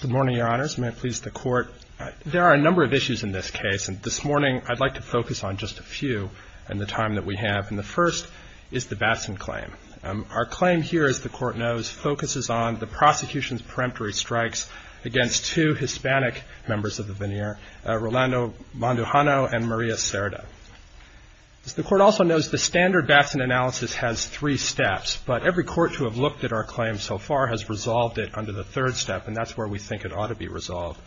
Good morning, Your Honors. May it please the Court. There are a number of issues in this case, and this morning I'd like to focus on just a few in the time that we have. And the first is the Batson claim. Our claim here, as the Court knows, focuses on the prosecution's peremptory strikes against two Hispanic members of the veneer, Rolando Mondujano and Maria Cerda. As the Court also knows, the standard Batson analysis has three steps, but every Court to have looked at our claim so far has resolved it under the third step, and that's where we think it ought to be resolved.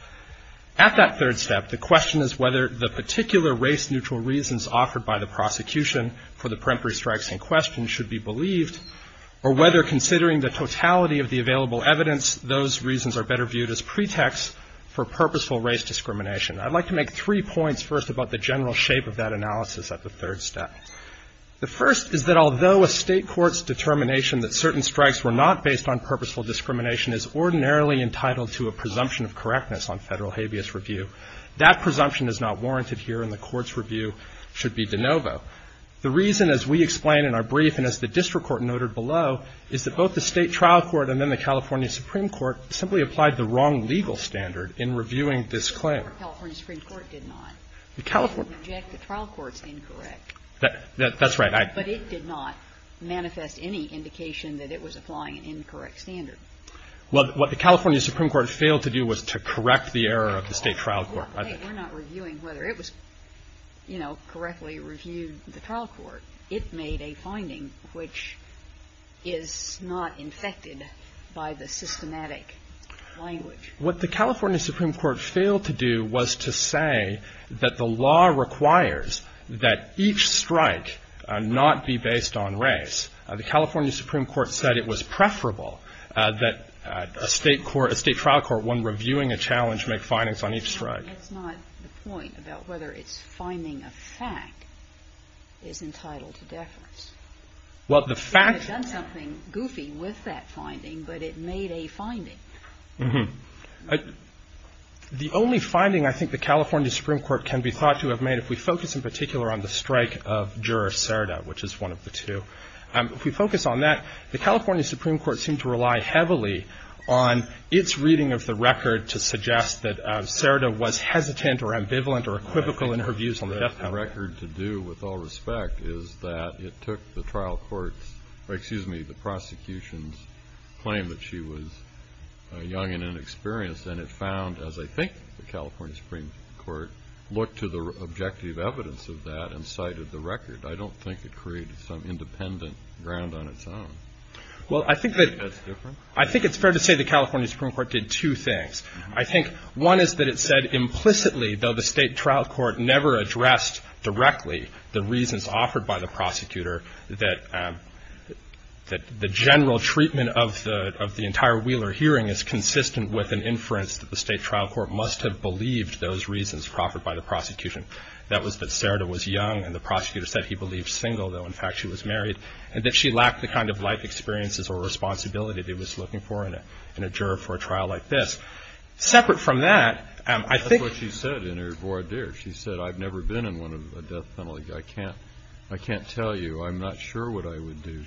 At that third step, the question is whether the particular race-neutral reasons offered by the prosecution for the peremptory strikes in question should be believed, or whether, considering the totality of the available evidence, those reasons are better viewed as pretext for purposeful race discrimination. I'd like to make three points first about the general shape of that analysis at the third step. The first is that although a State court's determination that certain strikes were not based on purposeful discrimination is ordinarily entitled to a presumption of correctness on Federal habeas review, that presumption is not warranted here, and the Court's review should be de novo. The reason, as we explain in our brief and as the district court noted below, is that both the State trial court and then the California Supreme Court simply applied the wrong legal standard in reviewing this claim. The California Supreme Court did not. It would inject the trial court's incorrect. That's right. But it did not manifest any indication that it was applying an incorrect standard. Well, what the California Supreme Court failed to do was to correct the error of the State trial court. We're not reviewing whether it was, you know, correctly reviewed the trial court. It made a finding which is not infected by the systematic language. What the California Supreme Court failed to do was to say that the law requires that each strike not be based on race. The California Supreme Court said it was preferable that a State court, a State trial court, when reviewing a challenge, make findings on each strike. It's not the point about whether its finding of fact is entitled to deference. Well, the fact. It would have done something goofy with that finding, but it made a finding. The only finding I think the California Supreme Court can be thought to have made, if we focus in particular on the strike of Juror Serda, which is one of the two, if we focus on that, the California Supreme Court seemed to rely heavily on its reading of the record to suggest that Serda was hesitant or ambivalent or equivocal in her views on the death penalty. The record to do with all respect is that it took the trial court's or, excuse me, the prosecution's claim that she was young and inexperienced and it found, as I think the California Supreme Court looked to the objective evidence of that and cited the record. I don't think it created some independent ground on its own. Well, I think that's different. I think it's fair to say the California Supreme Court did two things. I think one is that it said implicitly, though the state trial court never addressed directly the reasons offered by the prosecutor, that the general treatment of the entire Wheeler hearing is consistent with an inference that the state trial court must have believed those reasons offered by the prosecution. That was that Serda was young and the prosecutor said he believed single, though in fact she was married, and that she lacked the kind of life experiences or responsibility that he was looking for in a juror for a trial like this. Separate from that, I think. That's what she said in her voir dire. She said, I've never been in one of a death penalty. I can't tell you. I'm not sure what I would do.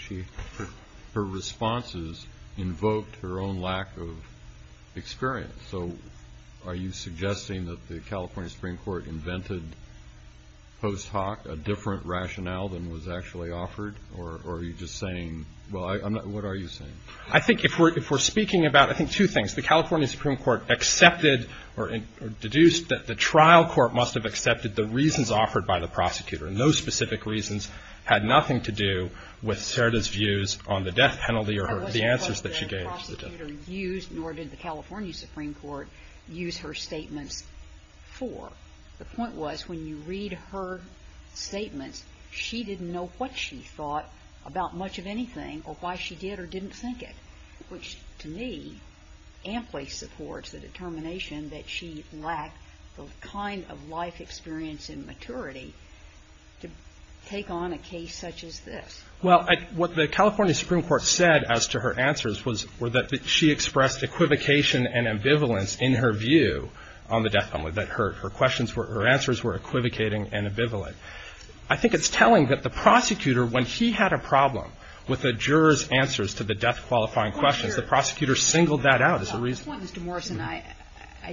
Her responses invoked her own lack of experience. So are you suggesting that the California Supreme Court invented post hoc a different rationale than was actually offered, or are you just saying, well, I'm not, what are you saying? I think if we're speaking about, I think two things. The California Supreme Court accepted or deduced that the trial court must have accepted the reasons offered by the prosecutor. And those specific reasons had nothing to do with Serda's views on the death penalty or the answers that she gave. Nor did the California Supreme Court use her statements for. The point was when you read her statements, she didn't know what she thought about much of anything or why she did or didn't think it. Which, to me, amply supports the determination that she lacked the kind of life experience and maturity to take on a case such as this. Well, what the California Supreme Court said as to her answers was that she expressed equivocation and ambivalence in her view on the death penalty. Her answers were equivocating and ambivalent. I think it's telling that the prosecutor, when he had a problem with a juror's answers to the death-qualifying questions, the prosecutor singled that out as a reason. The point, Mr. Morrison, I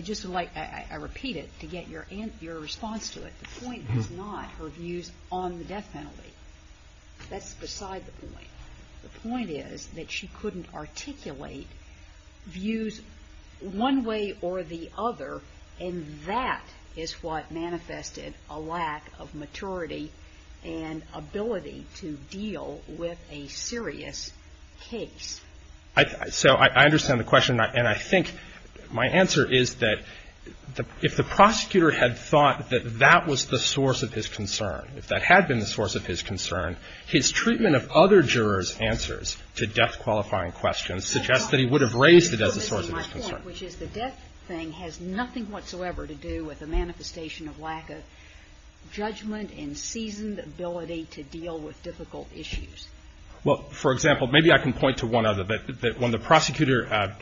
just would like, I repeat it to get your response to it, the point is not her views on the death penalty. That's beside the point. The point is that she couldn't articulate views one way or the other, and that is what manifested a lack of maturity and ability to deal with a serious case. So I understand the question. And I think my answer is that if the prosecutor had thought that that was the source of his concern, if that had been the source of his concern, his treatment of other jurors' answers to death-qualifying questions suggests that he would have raised it as a source of his concern. The other part, which is the death thing, has nothing whatsoever to do with a manifestation of lack of judgment and seasoned ability to deal with difficult issues. Well, for example, maybe I can point to one other. When the prosecutor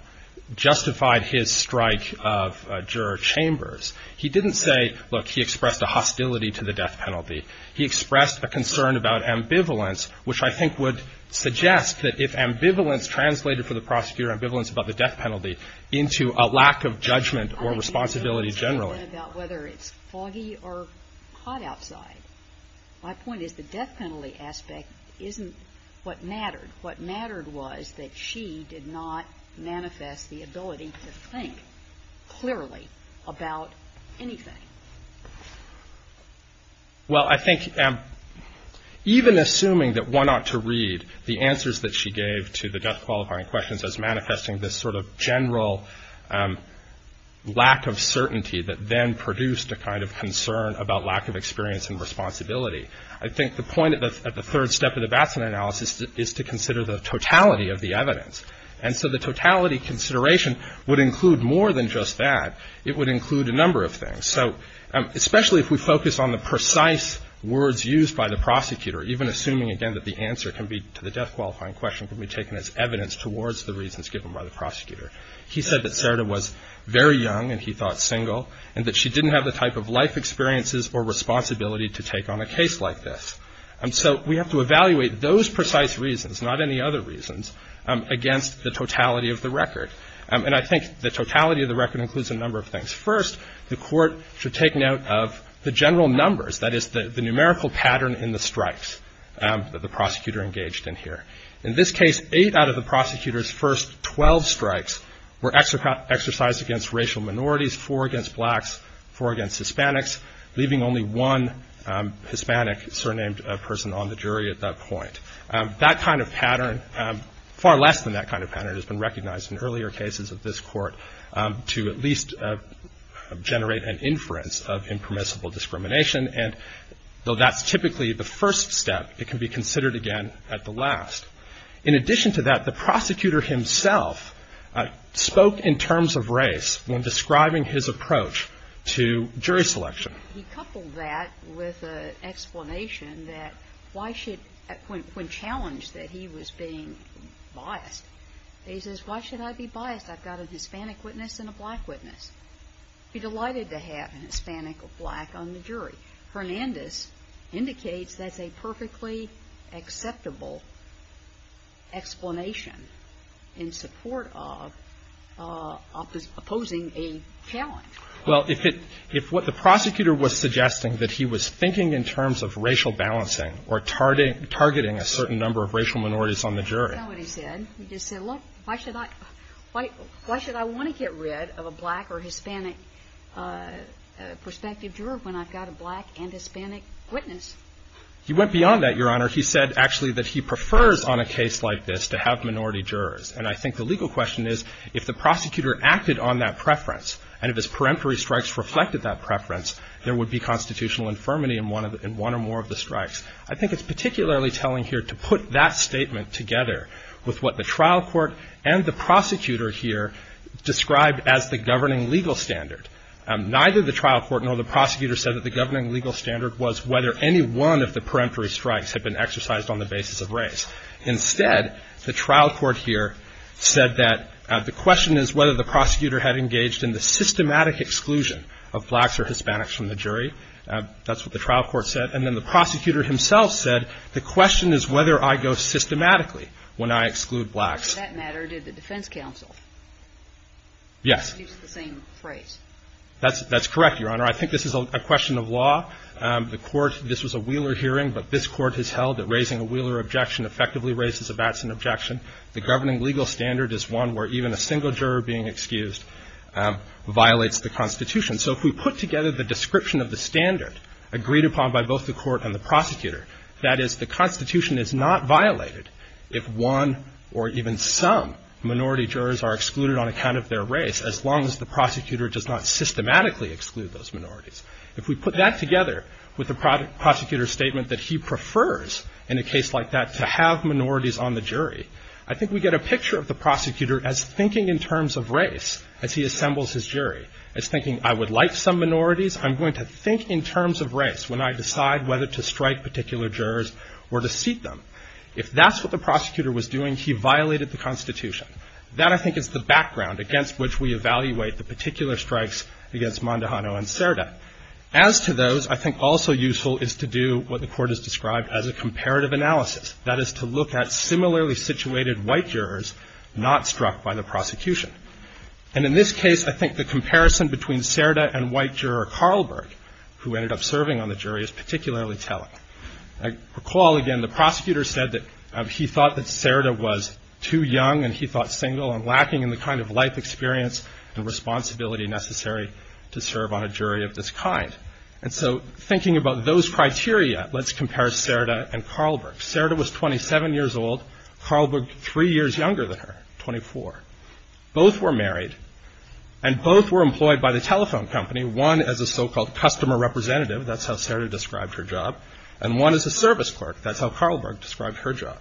justified his strike of Juror Chambers, he didn't say, look, he expressed a hostility to the death penalty. He expressed a concern about ambivalence, which I think would suggest that if ambivalence translated for the prosecutor ambivalence about the death penalty into a lack of judgment or responsibility generally. I don't know whether it's foggy or hot outside. My point is the death penalty aspect isn't what mattered. What mattered was that she did not manifest the ability to think clearly about anything. Well, I think even assuming that one ought to read the answers that she gave to the death qualifying questions as manifesting this sort of general lack of certainty that then produced a kind of concern about lack of experience and responsibility, I think the point at the third step of the Batson analysis is to consider the totality of the evidence. And so the totality consideration would include more than just that. It would include a number of things. So especially if we focus on the precise words used by the prosecutor, even assuming, again, that the answer can be to the death qualifying question can be taken as evidence towards the reasons given by the prosecutor. He said that Sarita was very young and he thought single, and that she didn't have the type of life experiences or responsibility to take on a case like this. And so we have to evaluate those precise reasons, not any other reasons, against the totality of the record. And I think the totality of the record includes a number of things. First, the court should take note of the general numbers, that is the numerical pattern in the strikes that the prosecutor engaged in here. In this case, eight out of the prosecutor's first 12 strikes were exercised against racial minorities, four against blacks, four against Hispanics, leaving only one Hispanic surnamed person on the jury at that point. That kind of pattern, far less than that kind of pattern, has been recognized in earlier cases of this court to at least generate an inference of impermissible discrimination. And though that's typically the first step, it can be considered again at the last. In addition to that, the prosecutor himself spoke in terms of race when describing his approach to jury selection. He coupled that with an explanation that when challenged that he was being biased. He says, why should I be biased? I've got a Hispanic witness and a black witness. I'd be delighted to have an Hispanic or black on the jury. Hernandez indicates that's a perfectly acceptable explanation in support of opposing a challenge. Well, if it – if what the prosecutor was suggesting, that he was thinking in terms of racial balancing or targeting a certain number of racial minorities on the jury. That's not what he said. He just said, look, why should I – why should I want to get rid of a black or Hispanic perspective juror when I've got a black and Hispanic witness? He went beyond that, Your Honor. He said, actually, that he prefers on a case like this to have minority jurors. And I think the legal question is, if the prosecutor acted on that preference and if his peremptory strikes reflected that preference, there would be constitutional infirmity in one or more of the strikes. I think it's particularly telling here to put that statement together with what the trial court and the prosecutor here described as the governing legal standard. Neither the trial court nor the prosecutor said that the governing legal standard was whether any one of the peremptory strikes had been exercised on the basis of race. Instead, the trial court here said that the question is whether the prosecutor had engaged in the systematic exclusion of blacks or Hispanics from the jury. That's what the trial court said. And then the prosecutor himself said, the question is whether I go systematically when I exclude blacks. In that matter, did the defense counsel use the same phrase? Yes. That's correct, Your Honor. I think this is a question of law. The court – this was a Wheeler hearing, but this court has held that raising a Wheeler objection effectively raises a Batson objection. The governing legal standard is one where even a single juror being excused violates the Constitution. So if we put together the description of the standard agreed upon by both the court and the prosecutor, that is, the Constitution is not violated if one or even some minority jurors are excluded on account of their race, as long as the prosecutor does not systematically exclude those minorities. If we put that together with the prosecutor's statement that he prefers, in a case like that, to have minorities on the jury, I think we get a picture of the prosecutor as thinking in terms of race, as he assembles his jury, as thinking, I would like some minorities. I'm going to think in terms of race when I decide whether to strike particular jurors or to seat them. If that's what the prosecutor was doing, he violated the Constitution. That, I think, is the background against which we evaluate the particular strikes against Mondahano and Cerda. As to those, I think also useful is to do what the court has described as a comparative analysis, that is, to look at similarly situated white jurors not struck by the prosecution. And in this case, I think the comparison between Cerda and white juror Carlberg, who ended up serving on the jury, is particularly telling. I recall, again, the prosecutor said that he thought that Cerda was too young and he thought single and lacking in the kind of life experience and responsibility necessary to serve on a jury of this kind. And so thinking about those criteria, let's compare Cerda and Carlberg. Cerda was 27 years old. Carlberg, three years younger than her, 24. Both were married and both were employed by the telephone company, one as a so-called customer representative. That's how Cerda described her job. And one as a service clerk. That's how Carlberg described her job.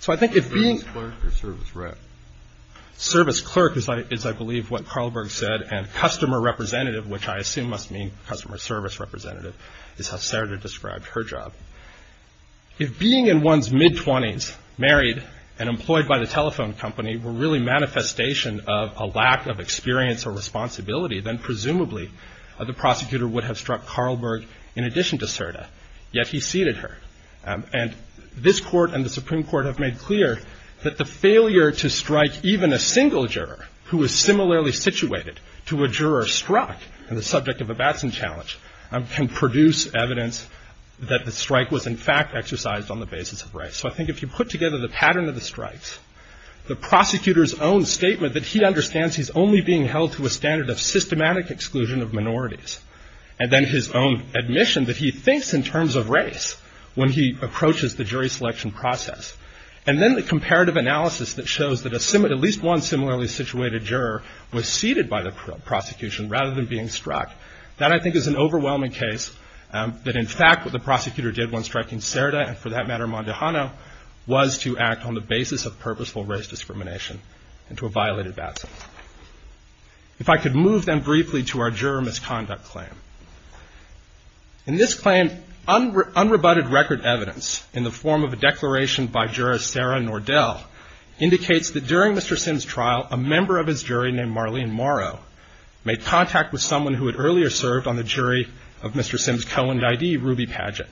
So I think if being... Service clerk is, I believe, what Carlberg said. And customer representative, which I assume must mean customer service representative, is how Cerda described her job. If being in one's mid-20s, married and employed by the telephone company, were really manifestation of a lack of experience or responsibility, then presumably the prosecutor would have struck Carlberg in addition to Cerda. Yet he ceded her. And this court and the Supreme Court have made clear that the failure to strike even a single juror, who is similarly situated to a juror struck in the subject of a Batson challenge, can produce evidence that the strike was, in fact, exercised on the basis of race. So I think if you put together the pattern of the strikes, the prosecutor's own statement that he understands he's only being held to a standard of systematic exclusion of minorities, and then his own admission that he thinks in terms of race when he approaches the jury selection process, and then the comparative analysis that shows that at least one similarly situated juror was ceded by the prosecution rather than being struck, that I think is an overwhelming case that in fact what the prosecutor did when striking Cerda, and for that matter Mondehano, was to act on the basis of purposeful race discrimination into a violated Batson. If I could move then briefly to our juror misconduct claim. In this claim, unrebutted record evidence in the form of a declaration by juror Sarah Nordell indicates that during Mr. Sims' trial, the juror served on the jury of Mr. Sims' co-end ID, Ruby Padgett.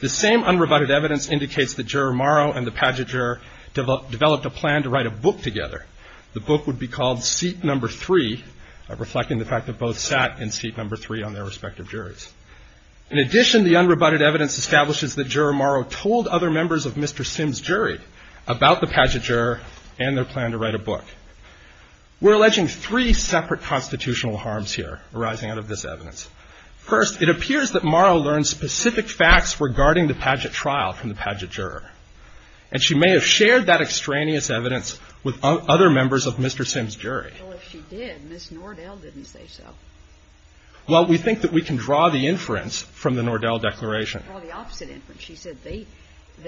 The same unrebutted evidence indicates that juror Morrow and the Padgett juror developed a plan to write a book together. The book would be called Seat Number Three, reflecting the fact that both sat in Seat Number Three on their respective juries. In addition, the unrebutted evidence establishes that juror Morrow told other members of Mr. Sims' jury about the Padgett juror and their plan to write a book. We're alleging three separate constitutional harms here arising out of this evidence. First, it appears that Morrow learned specific facts regarding the Padgett trial from the Padgett juror, and she may have shared that extraneous evidence with other members of Mr. Sims' jury. Well, if she did, Ms. Nordell didn't say so. Well, we think that we can draw the inference from the Nordell declaration. Well, the opposite inference. I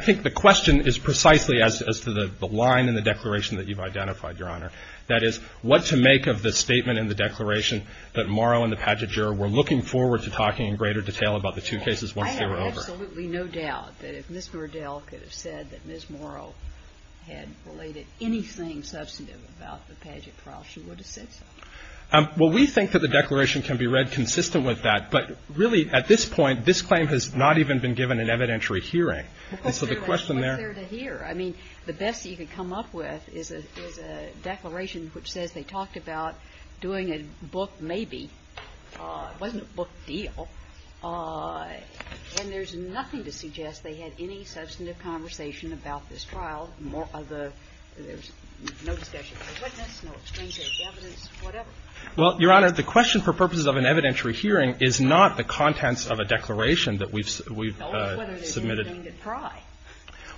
think the question is precisely as to the line in the declaration that you've identified, Your Honor. That is, what to make of the statement in the declaration that Morrow and the Padgett juror were looking forward to talking in greater detail about the two cases once they were over. I have absolutely no doubt that if Ms. Nordell could have said that Ms. Morrow had related to the Padgett trial, she would have said the same thing. Well, we think that the declaration can be read consistent with that, but really at this point, this claim has not even been given an evidentiary hearing. And so the question there. It was there to hear. I mean, the best you could come up with is a declaration which says they talked about doing a book maybe. It wasn't a book deal. And there's nothing to suggest they had any substantive conversation about this trial. Well, Your Honor, the question for purposes of an evidentiary hearing is not the contents of a declaration that we've submitted.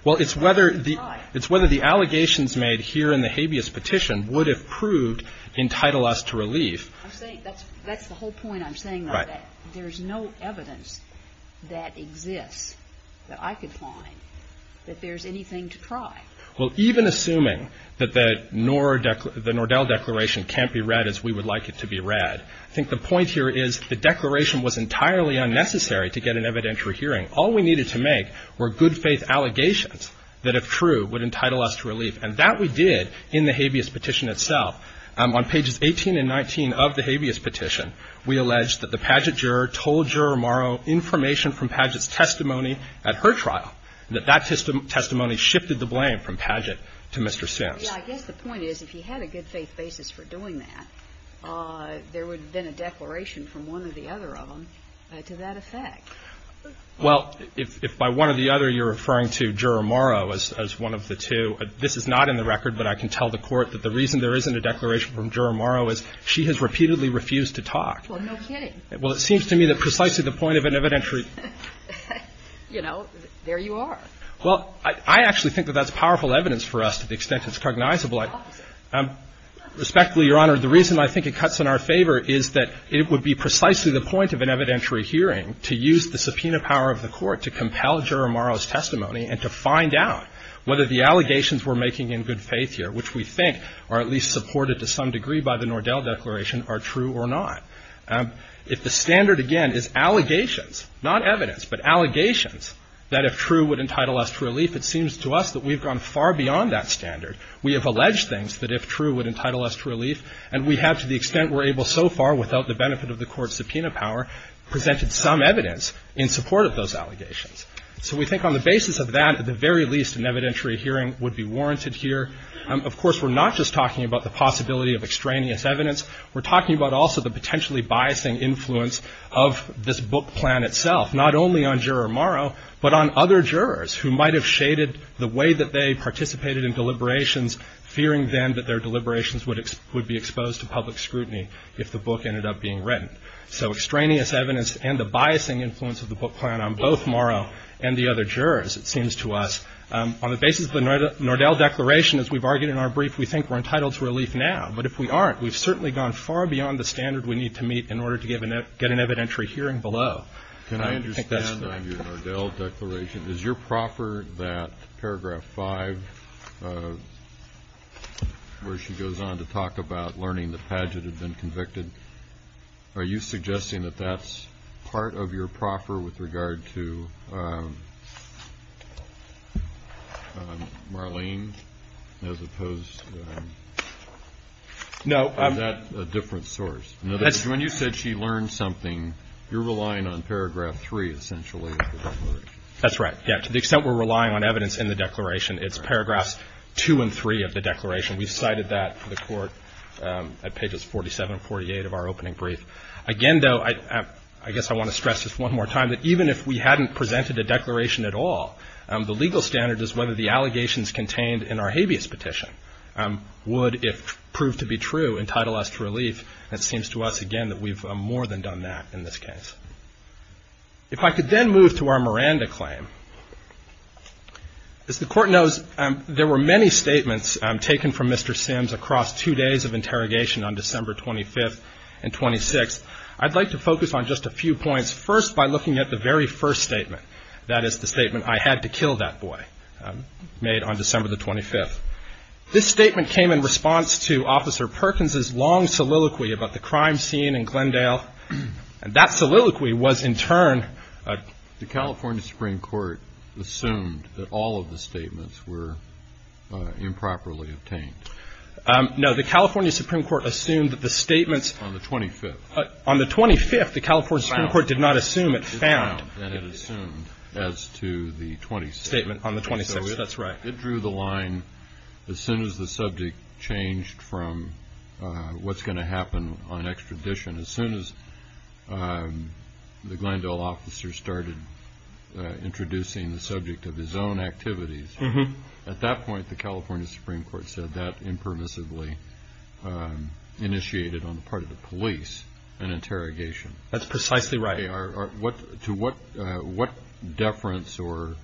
Well, it's whether the allegations made here in the habeas petition would have proved entitle us to relief. That's the whole point I'm saying. There's no evidence that exists that I could find that there's anything to try. Well, even assuming that the Nordell declaration can't be read as we would like it to be read, I think the point here is the declaration was entirely unnecessary to get an evidentiary hearing. All we needed to make were good faith allegations that, if true, would entitle us to relief. And that we did in the habeas petition itself. On pages 18 and 19 of the habeas petition, we alleged that the Padgett juror told Juror Morrow information from Padgett's testimony at her trial, that that testimony shifted the blame from Padgett to Mr. Sims. Yeah. I guess the point is, if he had a good faith basis for doing that, there would have been a declaration from one or the other of them to that effect. Well, if by one or the other you're referring to Juror Morrow as one of the two, this is not in the record, but I can tell the Court that the reason there isn't a declaration from Juror Morrow is she has repeatedly refused to talk. Well, no kidding. Well, it seems to me that precisely the point of an evidentiary – You know, there you are. Well, I actually think that that's powerful evidence for us to the extent it's cognizable. Respectfully, Your Honor, the reason I think it cuts in our favor is that it would be precisely the point of an evidentiary hearing to use the subpoena power of the Court to compel Juror Morrow's testimony and to find out whether the allegations we're making in good faith here, which we think are at least supported to some degree by the Nordell Declaration, are true or not. If the standard, again, is allegations, not evidence, but allegations that if true would entitle us to relief, it seems to us that we've gone far beyond that standard. We have alleged things that if true would entitle us to relief, and we have, to the extent we're able so far without the benefit of the Court's subpoena power, presented some evidence in support of those allegations. So we think on the basis of that, at the very least, an evidentiary hearing would be warranted here. Of course, we're not just talking about the possibility of extraneous evidence. We're talking about also the potentially biasing influence of this book plan itself, not only on Juror Morrow, but on other jurors who might have shaded the way that they participated in deliberations, fearing then that their deliberations would be exposed to public scrutiny if the book ended up being written. So extraneous evidence and the biasing influence of the book plan on both Morrow and the other jurors, it seems to us, on the basis of the Nordell Declaration, as we've argued in our brief, we think we're entitled to relief now. But if we aren't, we've certainly gone far beyond the standard we need to meet in order to get an evidentiary hearing below. I think that's fair. Can I understand on your Nordell Declaration, is your proffer that paragraph 5 where she goes on to talk about learning the pageant had been convicted, are you suggesting that that's part of your proffer with regard to Marlene as opposed to... Is that a different source? In other words, when you said she learned something, you're relying on paragraph 3 essentially of the declaration. That's right. To the extent we're relying on evidence in the declaration, it's paragraphs 2 and 3 of the declaration. We cited that for the court at pages 47 and 48 of our opening brief. Again, though, I guess I want to stress this one more time, that even if we hadn't presented a declaration at all, the legal standard is whether the allegations contained in our habeas petition would, if proved to be true, entitle us to relief. It seems to us, again, that we've more than done that in this case. If I could then move to our Miranda claim. As the court knows, there were many statements taken from Mr. Sims across two days of interrogation on December 25th and 26th. I'd like to focus on just a few points, first by looking at the very first statement. That is the statement, I had to kill that boy, made on December the 25th. This statement came in response to Officer Perkins' long soliloquy about the crime scene in Glendale. That soliloquy was in turn. The California Supreme Court assumed that all of the statements were improperly obtained. No, the California Supreme Court assumed that the statements. On the 25th. On the 25th, the California Supreme Court did not assume it found. It assumed as to the 26th. Statement on the 26th. That's right. It drew the line as soon as the subject changed from what's going to happen on extradition. As soon as the Glendale officer started introducing the subject of his own activities. At that point, the California Supreme Court said that impermissibly initiated on the part of the police an interrogation. That's precisely right. To what deference or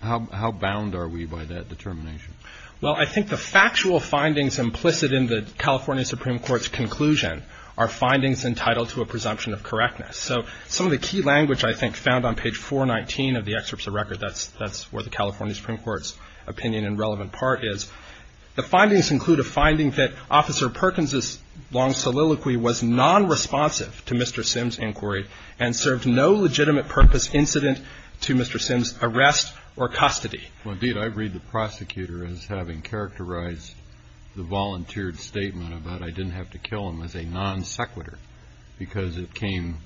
how bound are we by that determination? Well, I think the factual findings implicit in the California Supreme Court's conclusion are findings entitled to a presumption of correctness. So some of the key language I think found on page 419 of the excerpts of record. That's that's where the California Supreme Court's opinion and relevant part is. The findings include a finding that Officer Perkins' long soliloquy was non responsive to Mr. Sims inquiry and served no legitimate purpose incident to Mr. Sims arrest or custody. Indeed, I read the prosecutor as having characterized the volunteered statement about I didn't have to kill him as a non sequitur. Because it came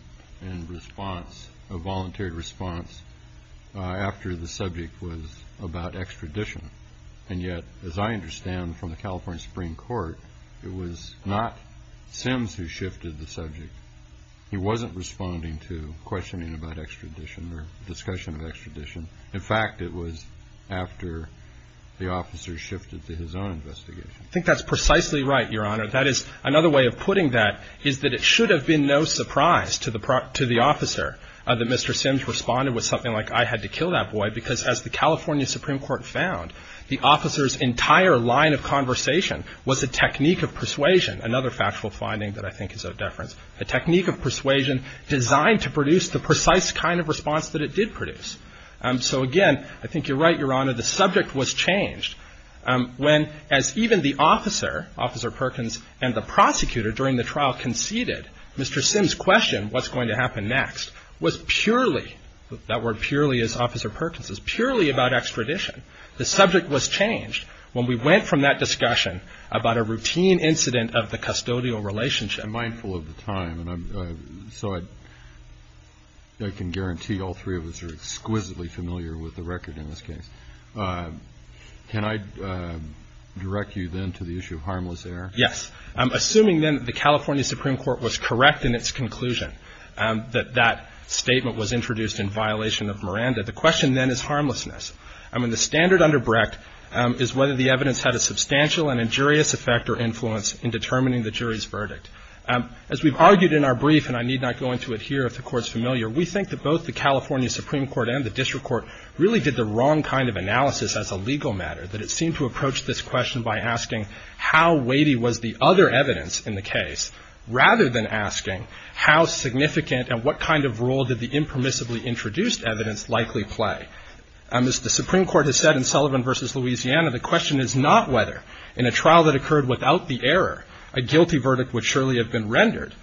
in response, a volunteered response after the subject was about extradition. And yet, as I understand from the California Supreme Court, it was not Sims who shifted the subject. He wasn't responding to questioning about extradition or discussion of extradition. In fact, it was after the officer shifted to his own investigation. I think that's precisely right, Your Honor. That is another way of putting that is that it should have been no surprise to the to the officer that Mr. Sims responded with something like I had to kill that boy, because as the California Supreme Court found, the officer's entire line of conversation was a technique of persuasion. Another factual finding that I think is a deference, a technique of persuasion designed to produce the precise kind of response that it did produce. So, again, I think you're right, Your Honor. The subject was changed when, as even the officer, Officer Perkins, and the prosecutor during the trial conceded, Mr. Sims' question, what's going to happen next, was purely, that word purely is Officer Perkins, is purely about extradition. The subject was changed when we went from that discussion about a routine incident of the custodial relationship. I'm mindful of the time, so I can guarantee all three of us are exquisitely familiar with the record in this case. Can I direct you then to the issue of harmless error? Yes. Assuming then the California Supreme Court was correct in its conclusion that that statement was introduced in violation of Miranda, the question then is harmlessness. I mean, the standard under Brecht is whether the evidence had a substantial and injurious effect or influence in determining the jury's verdict. As we've argued in our brief, and I need not go into it here if the Court's familiar, we think that both the California Supreme Court and the district court really did the wrong kind of analysis as a legal matter, that it seemed to approach this question by asking how weighty was the other evidence in the case, rather than asking how significant and what kind of role did the impermissibly introduced evidence likely play. As the Supreme Court has said in Sullivan v. Louisiana, the question is not whether in a trial that occurred without the error a guilty verdict would surely have been rendered,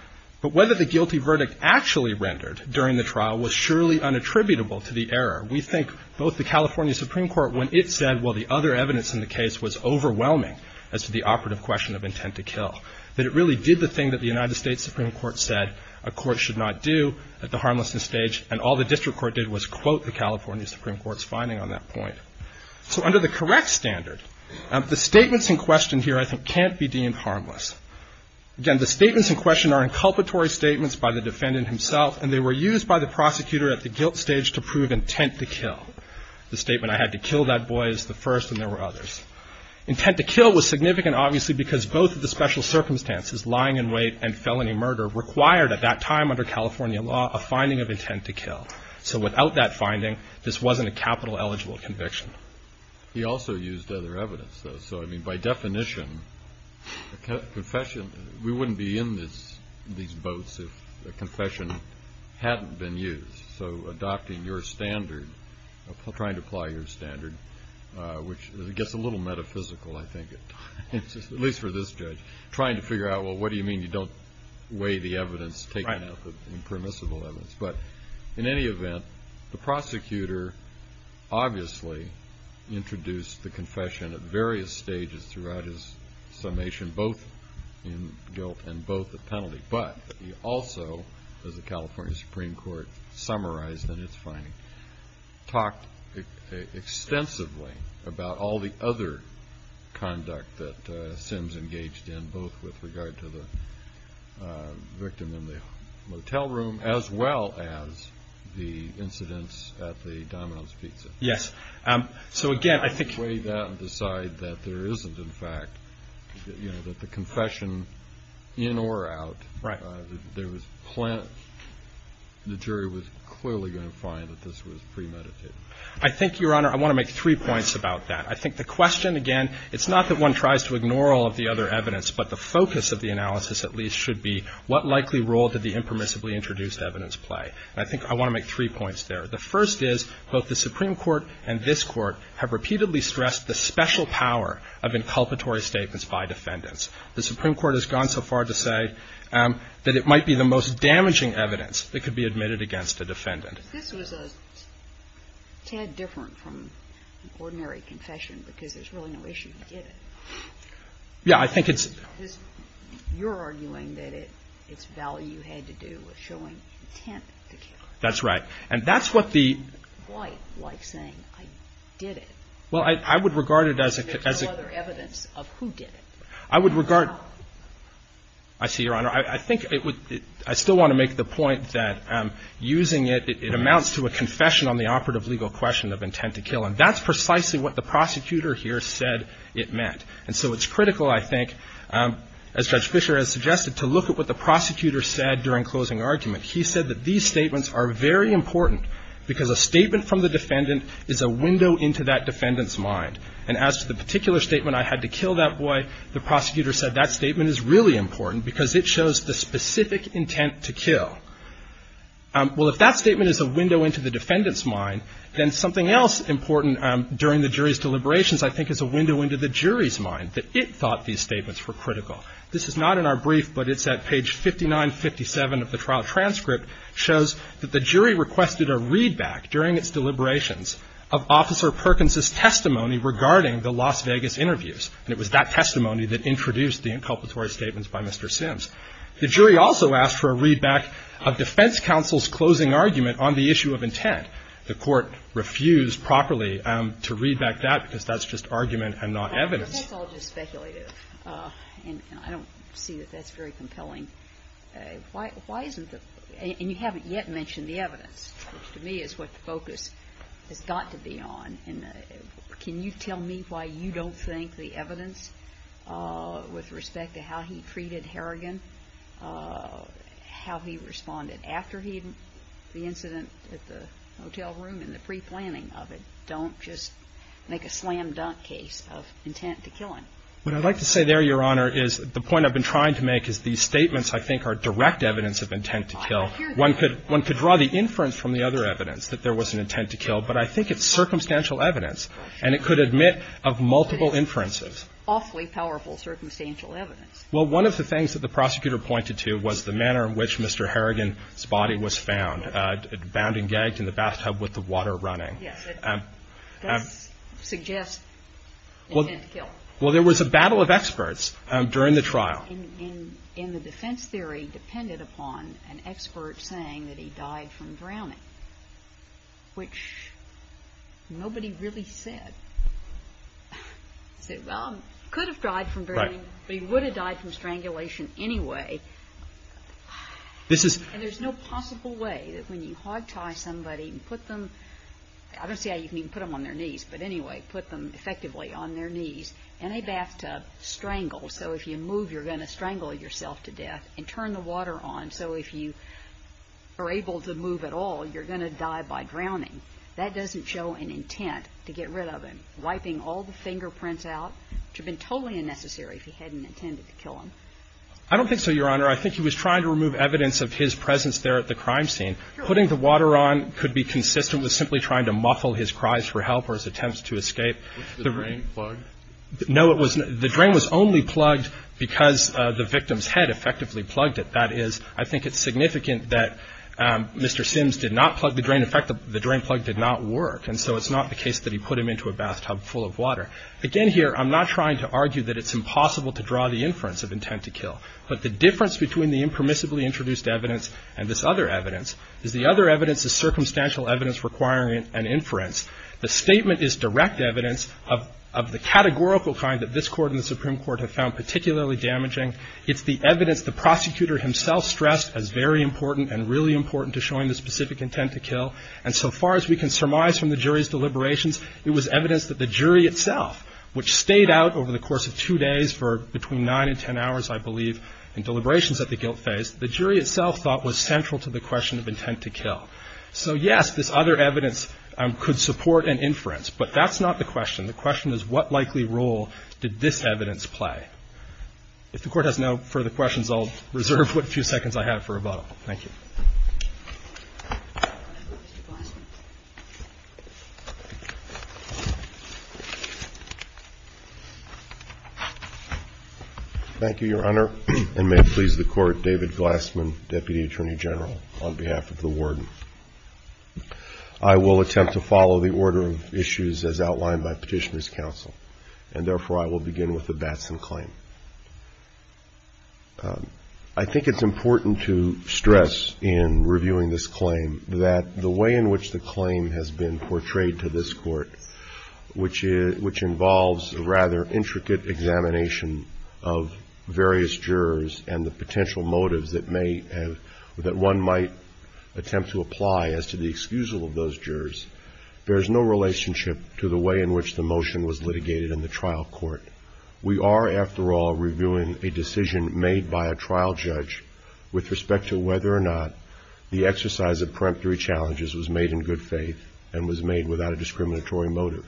but whether the guilty verdict actually rendered during the trial was surely unattributable to the error. We think both the California Supreme Court, when it said, well, the other evidence in the case was overwhelming as to the operative question of intent to kill, that it really did the thing that the United States Supreme Court said a court should not do at the harmlessness stage, and all the district court did was quote the California Supreme Court's finding on that point. So under the correct standard, the statements in question here, I think, can't be deemed harmless. Again, the statements in question are inculpatory statements by the defendant himself, and they were used by the prosecutor at the guilt stage to prove intent to kill. The statement, I had to kill that boy, is the first, and there were others. Intent to kill was significant, obviously, because both of the special circumstances, lying in wait and felony murder, required at that time under California law a finding of intent to kill. So without that finding, this wasn't a capital eligible conviction. He also used other evidence, though. So, I mean, by definition, a confession, we wouldn't be in these boats if a confession hadn't been used. So adopting your standard, trying to apply your standard, which gets a little metaphysical, I think, at least for this judge, trying to figure out, well, what do you mean you don't weigh the evidence, taking out the impermissible evidence. But in any event, the prosecutor obviously introduced the confession at various stages throughout his summation, both in guilt and both at penalty. But he also, as the California Supreme Court summarized in its finding, talked extensively about all the other conduct that Sims engaged in, both with regard to the victim in the motel room as well as the incidents at the Domino's Pizza. Yes. So, again, I think. Weigh that and decide that there isn't, in fact, that the confession, in or out. Right. The jury was clearly going to find that this was premeditated. I think, Your Honor, I want to make three points about that. I think the question, again, it's not that one tries to ignore all of the other evidence, but the focus of the analysis at least should be what likely role did the impermissibly introduced evidence play. And I think I want to make three points there. The first is both the Supreme Court and this Court have repeatedly stressed the special power of inculpatory statements by defendants. The Supreme Court has gone so far to say that it might be the most damaging evidence that could be admitted against a defendant. This was a tad different from an ordinary confession because there's really no issue. He did it. Yeah, I think it's. You're arguing that its value had to do with showing intent to kill. That's right. And that's what the. Quite like saying, I did it. Well, I would regard it as. There's no other evidence of who did it. I would regard. I see, Your Honor. I think it would. I still want to make the point that using it, it amounts to a confession on the operative legal question of intent to kill. And that's precisely what the prosecutor here said it meant. And so it's critical, I think, as Judge Fischer has suggested, to look at what the prosecutor said during closing argument. He said that these statements are very important because a statement from the defendant is a window into that defendant's mind. And as to the particular statement, I had to kill that boy, the prosecutor said that statement is really important because it shows the specific intent to kill. Well, if that statement is a window into the defendant's mind, then something else important during the jury's deliberations, I think, is a window into the jury's mind that it thought these statements were critical. This is not in our brief, but it's at page 59, 57 of the trial transcript, shows that the jury requested a readback during its deliberations of Officer Perkins's testimony regarding the Las Vegas interviews. And it was that testimony that introduced the inculpatory statements by Mr. Sims. The jury also asked for a readback of defense counsel's closing argument on the issue of intent. The Court refused properly to read back that because that's just argument and not evidence. Well, that's all just speculative. And I don't see that that's very compelling. Why isn't the – and you haven't yet mentioned the evidence, which to me is what the focus has got to be on. And can you tell me why you don't think the evidence with respect to how he treated Harrigan, how he responded after the incident at the hotel room and the preplanning of it, don't just make a slam-dunk case of intent to kill him? What I'd like to say there, Your Honor, is the point I've been trying to make is these statements, I think, are direct evidence of intent to kill. I hear you. One could draw the inference from the other evidence that there was an intent to kill, but I think it's circumstantial evidence. And it could admit of multiple inferences. But it's awfully powerful circumstantial evidence. Well, one of the things that the prosecutor pointed to was the manner in which Mr. Harrigan's body was found, bound and gagged in the bathtub with the water running. Yes, it does suggest intent to kill. Well, there was a battle of experts during the trial. And the defense theory depended upon an expert saying that he died from drowning, which nobody really said. They said, well, he could have died from drowning, but he would have died from strangulation anyway. And there's no possible way that when you hogtie somebody and put them, I don't see how you can even put them on their knees, but anyway, put them effectively on their knees in a bathtub, strangle. So if you move, you're going to strangle yourself to death and turn the water on. So if you are able to move at all, you're going to die by drowning. That doesn't show an intent to get rid of him, wiping all the fingerprints out, which would have been totally unnecessary if he hadn't intended to kill him. I don't think so, Your Honor. I think he was trying to remove evidence of his presence there at the crime scene. Putting the water on could be consistent with simply trying to muffle his cries for help or his attempts to escape. Was the drain plugged? No, it was not. The drain was only plugged because the victim's head effectively plugged it. That is, I think it's significant that Mr. Sims did not plug the drain. In fact, the drain plug did not work. Again here, I'm not trying to argue that it's impossible to draw the inference of intent to kill, but the difference between the impermissibly introduced evidence and this other evidence is the other evidence is circumstantial evidence requiring an inference. The statement is direct evidence of the categorical kind that this Court and the Supreme Court have found particularly damaging. It's the evidence the prosecutor himself stressed as very important and really important to showing the specific intent to kill. And so far as we can surmise from the jury's deliberations, it was evidence that the jury itself, which stayed out over the course of two days for between nine and ten hours, I believe, in deliberations at the guilt phase, the jury itself thought was central to the question of intent to kill. So, yes, this other evidence could support an inference, but that's not the question. The question is what likely role did this evidence play? If the Court has no further questions, I'll reserve what few seconds I have for rebuttal. Thank you. Thank you, Your Honor. And may it please the Court, David Glassman, Deputy Attorney General, on behalf of the Warden. I will attempt to follow the order of issues as outlined by Petitioner's Counsel, and therefore I will begin with the Batson claim. I think it's important to stress in reviewing this claim that the way in which the claim has been portrayed to this Court, which involves a rather intricate examination of various jurors and the potential motives that may have, that one might attempt to apply as to the excusal of those jurors, bears no relationship to the way in which the motion was litigated in the trial court. We are, after all, reviewing a decision made by a trial judge with respect to whether or not the exercise of peremptory challenges was made in good faith and was made without a discriminatory motive.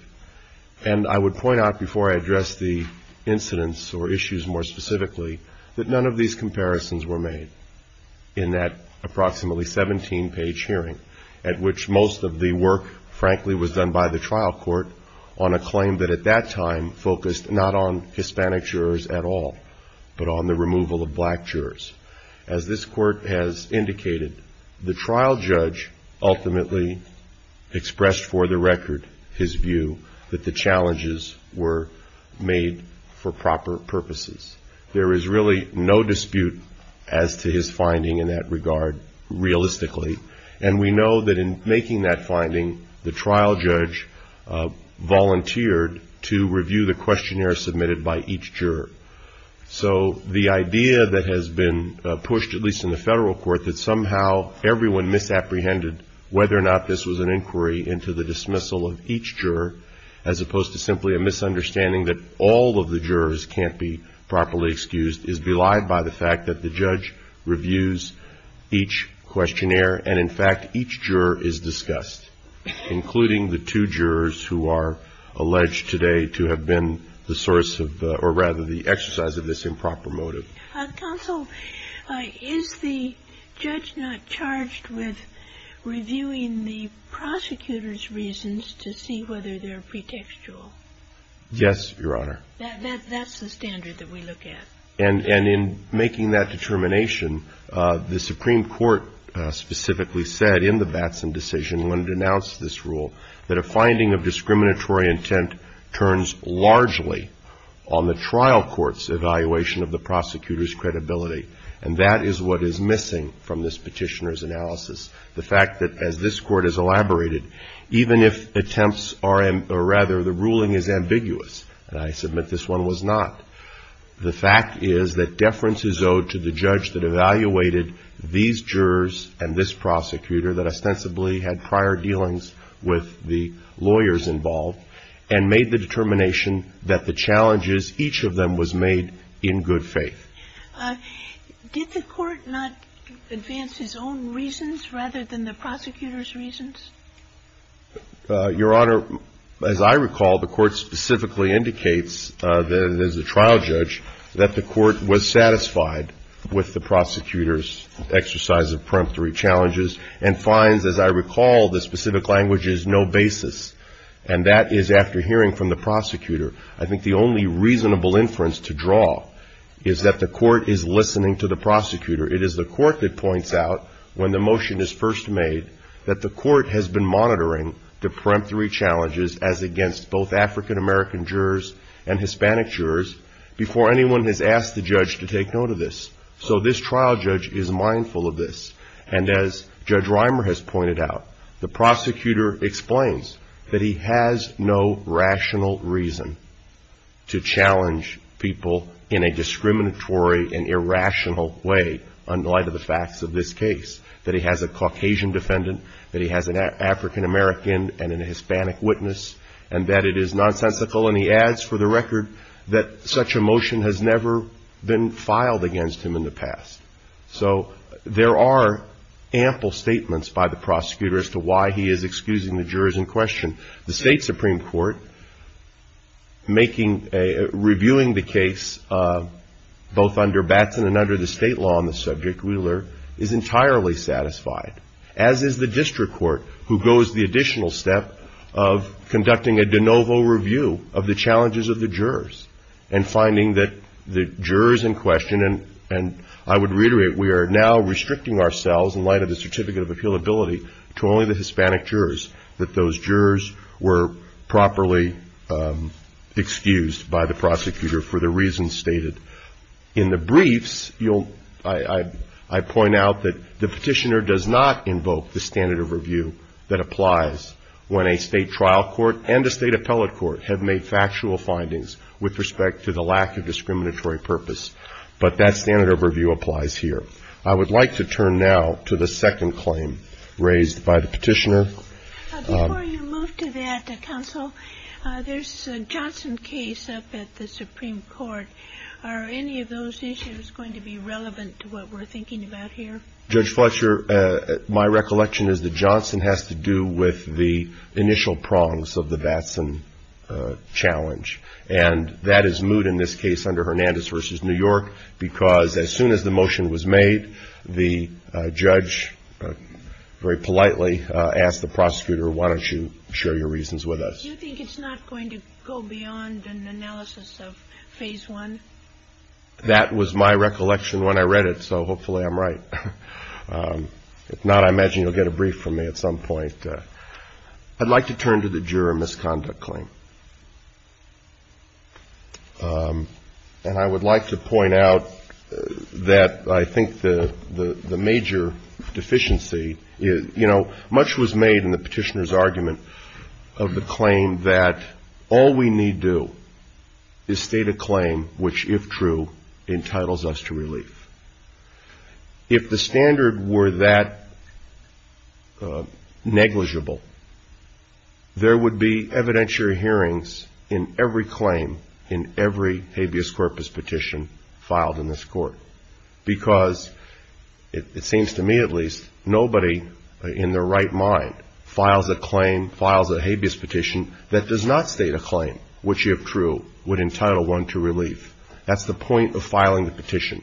And I would point out, before I address the incidents or issues more specifically, that none of these comparisons were made in that approximately 17-page hearing, at which most of the work, frankly, was done by the trial court on a claim that, at that time, focused not on Hispanic jurors at all, but on the removal of black jurors. As this Court has indicated, the trial judge ultimately expressed for the record his view that the challenges were made for proper purposes. There is really no dispute as to his finding in that regard, realistically, and we know that in making that finding, the trial judge volunteered to review the case, and to review the questionnaire submitted by each juror. So the idea that has been pushed, at least in the federal court, that somehow everyone misapprehended whether or not this was an inquiry into the dismissal of each juror, as opposed to simply a misunderstanding that all of the jurors can't be properly excused, is belied by the fact that the judge reviews each questionnaire, and in fact each juror is discussed, including the two jurors who are alleged today to have been the source of, or rather the exercise of this improper motive. Counsel, is the judge not charged with reviewing the prosecutor's reasons to see whether they're pretextual? Yes, Your Honor. That's the standard that we look at. And in making that determination, the Supreme Court specifically said in the Batson decision when it announced this rule that a finding of discriminatory intent turns largely on the trial court's evaluation of the prosecutor's credibility, and that is what is missing from this petitioner's analysis, the fact that, as this Court has elaborated, even if attempts are, or rather the ruling is ambiguous, and I submit this one was not, the fact is that deference is owed to the judge that evaluated these jurors and this prosecutor that ostensibly had prior dealings with the lawyers involved and made the determination that the challenges, each of them was made in good faith. Did the Court not advance his own reasons rather than the prosecutor's reasons? Your Honor, as I recall, the Court specifically indicates that it is the trial judge that the Court was satisfied with the prosecutor's exercise of peremptory challenges and finds, as I recall, the specific language is no basis, and that is after hearing from the prosecutor. I think the only reasonable inference to draw is that the Court is listening to the prosecutor. It is the Court that points out, when the motion is first made, that the Court has been monitoring the peremptory challenges as against both African-American jurors and Hispanic jurors before anyone has asked the judge to take note of this. So this trial judge is mindful of this, and as Judge Reimer has pointed out, the prosecutor explains that he has no rational reason to challenge people in a discriminatory and irrational way in light of the facts of this case, that he has a Caucasian defendant, that he has an African-American and a Hispanic witness, and that it is nonsensical, and he adds, for the record, that such a motion has never been filed against him in the past. So there are ample statements by the prosecutor as to why he is excusing the jurors in question. The State Supreme Court, reviewing the case both under Batson and under the state law on the subject, Wheeler, is entirely satisfied, as is the district court, who goes the additional step of conducting a de novo review of the challenges of the jurors and finding that the jurors in question, and I would reiterate, we are now restricting ourselves in light of the Certificate of Appealability to only the Hispanic jurors, that those jurors were properly excused by the prosecutor for the reasons stated. In the briefs, I point out that the petitioner does not invoke the standard of review that applies when a state trial court and a state appellate court have made factual findings with respect to the lack of discriminatory purpose, but that standard of review applies here. I would like to turn now to the second claim raised by the petitioner. Before you move to that, counsel, there's a Johnson case up at the Supreme Court. Are any of those issues going to be relevant to what we're thinking about here? Judge Fletcher, my recollection is that Johnson has to do with the initial prongs of the Batson challenge, and that is moot in this case under Hernandez v. New York because as soon as the motion was made, the judge very politely asked the prosecutor, why don't you share your reasons with us? Do you think it's not going to go beyond an analysis of Phase 1? That was my recollection when I read it, so hopefully I'm right. If not, I imagine you'll get a brief from me at some point. I'd like to turn to the juror misconduct claim. And I would like to point out that I think the major deficiency is, you know, much was made in the petitioner's argument of the claim that all we need do is state a claim which, if true, entitles us to relief. If the standard were that negligible, there would be evidentiary hearings in every claim in every habeas corpus petition filed in this court. Because, it seems to me at least, nobody in their right mind files a claim, files a habeas petition that does not state a claim which, if true, would entitle one to relief. That's the point of filing the petition.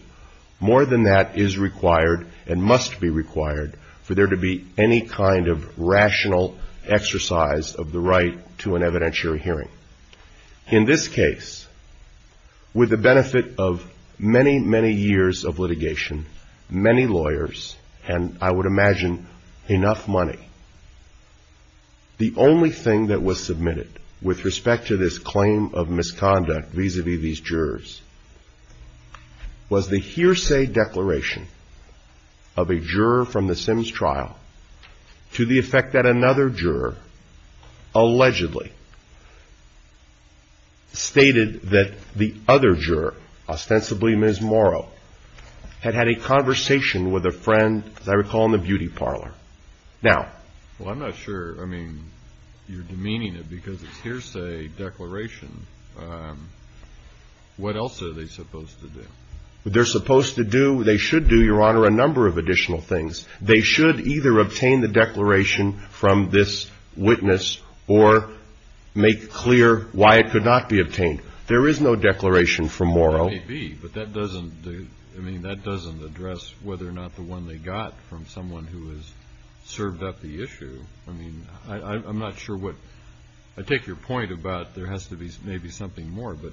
More than that is required and must be required for there to be any kind of rational exercise of the right to an evidentiary hearing. In this case, with the benefit of many, many years of litigation, many lawyers, and I would imagine enough money, the only thing that was submitted with respect to this claim of misconduct vis-a-vis these jurors was the hearsay declaration of a juror from the Sims trial to the effect that another juror allegedly stated that the other juror, ostensibly Ms. Morrow, had had a conversation with a friend, as I recall, in the beauty parlor. Now. Well, I'm not sure, I mean, you're demeaning it because it's hearsay declaration. What else are they supposed to do? They're supposed to do, they should do, Your Honor, a number of additional things. They should either obtain the declaration from this witness or make clear why it could not be obtained. There is no declaration from Morrow. Maybe, but that doesn't, I mean, that doesn't address whether or not the one they got from someone who has served up the issue. I mean, I'm not sure what, I take your point about there has to be maybe something more, but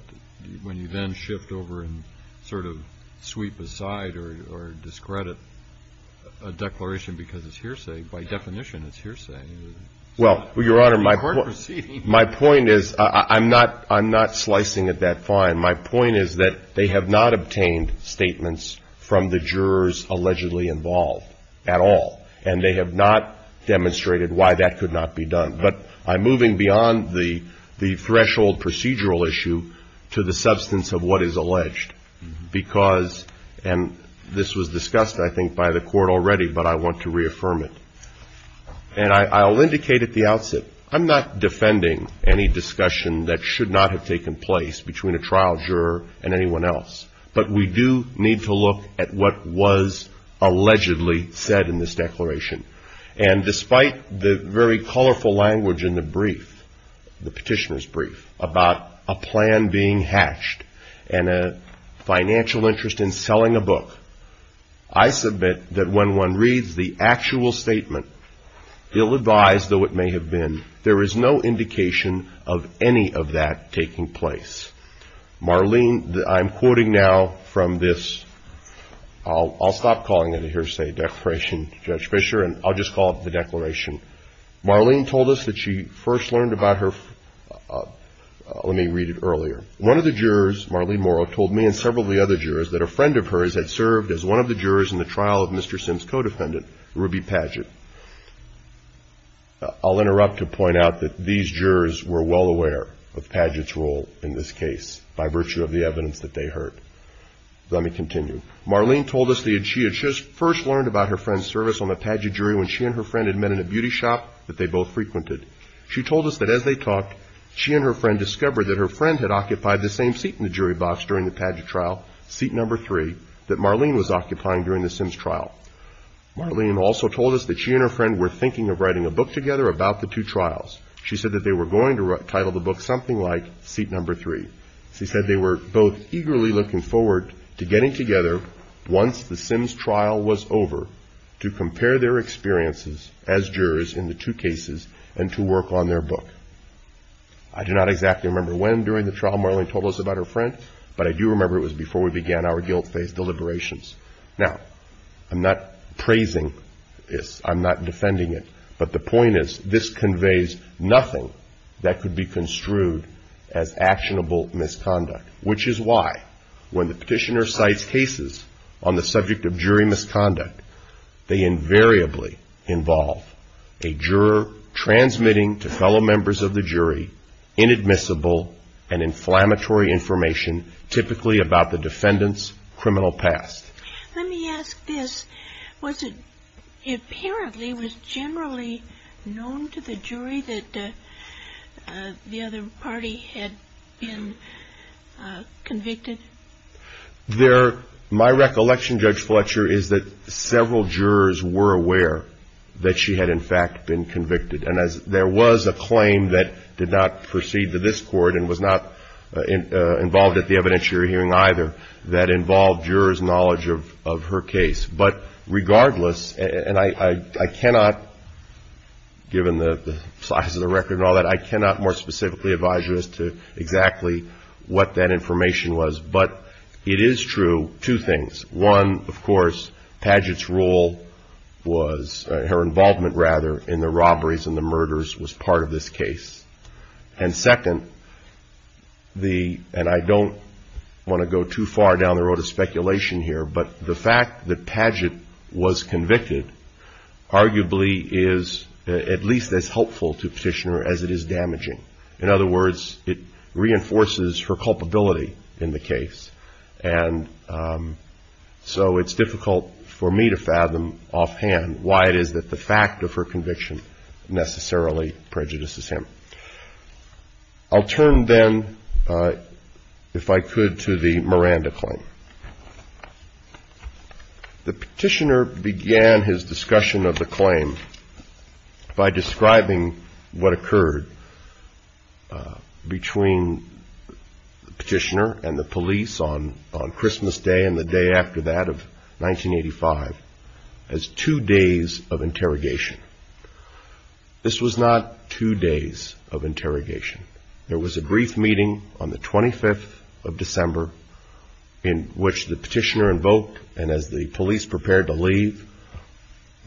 when you then shift over and sort of sweep aside or discredit a declaration because it's hearsay, by definition it's hearsay. Well, Your Honor, my point is, I'm not slicing it that fine. My point is that they have not obtained statements from the jurors allegedly involved at all, and they have not demonstrated why that could not be done. But I'm moving beyond the threshold procedural issue to the substance of what is alleged because, and this was discussed, I think, by the Court already, but I want to reaffirm it. And I'll indicate at the outset, I'm not defending any discussion that should not have taken place between a trial juror and anyone else, but we do need to look at what was allegedly said in this declaration. And despite the very colorful language in the brief, the petitioner's brief, about a plan being hatched and a financial interest in selling a book, I submit that when one reads the actual statement, ill-advised though it may have been, there is no indication of any of that taking place. Marlene, I'm quoting now from this, I'll stop calling it a hearsay declaration, Judge Fischer, and I'll just call it the declaration. Marlene told us that she first learned about her, let me read it earlier. One of the jurors, Marlene Morrow, told me and several of the other jurors that a friend of hers had served as one of the jurors in the trial of Mr. Sims' co-defendant, Ruby Padgett. I'll interrupt to point out that these jurors were well aware of Padgett's role in this case by virtue of the evidence that they heard. Let me continue. Marlene told us that she had first learned about her friend's service on the Padgett jury when she and her friend had met in a beauty shop that they both frequented. She told us that as they talked, she and her friend discovered that her friend had occupied the same seat in the jury box during the Padgett trial, seat number three, that Marlene was occupying during the Sims trial. Marlene also told us that she and her friend were thinking of writing a book together about the two trials. She said that they were going to title the book something like Seat Number Three. She said they were both eagerly looking forward to getting together once the Sims trial was over to compare their experiences as jurors in the two cases and to work on their book. I do not exactly remember when during the trial Marlene told us about her friend, but I do remember it was before we began our guilt-faced deliberations. Now, I'm not praising this. I'm not defending it. But the point is, this conveys nothing that could be construed as actionable misconduct, which is why when the petitioner cites cases on the subject of jury misconduct, they invariably involve a juror transmitting to fellow members of the jury inadmissible and inflammatory information typically about the defendant's criminal past. Let me ask this. Was it apparently, was it generally known to the jury that the other party had been convicted? My recollection, Judge Fletcher, is that several jurors were aware that she had in fact been convicted. And there was a claim that did not proceed to this court and was not involved at the evidence you're hearing either that involved jurors' knowledge of her case. But regardless, and I cannot, given the size of the record and all that, I cannot more specifically advise you as to exactly what that information was. But it is true, two things. One, of course, Padgett's role was, her involvement rather, in the robberies and the murders was part of this case. And second, the, and I don't want to go too far down the road of speculation here, but the fact that Padgett was convicted arguably is at least as helpful to Petitioner as it is damaging. In other words, it reinforces her culpability in the case. And so it's difficult for me to fathom offhand why it is that the fact of her conviction necessarily prejudices him. I'll turn then, if I could, to the Miranda claim. The Petitioner began his discussion of the claim by describing what occurred between the Petitioner and the police on Christmas Day and the day after that of 1985 as two days of interrogation. This was not two days of interrogation. There was a brief meeting on the 25th of December in which the Petitioner invoked, and as the police prepared to leave,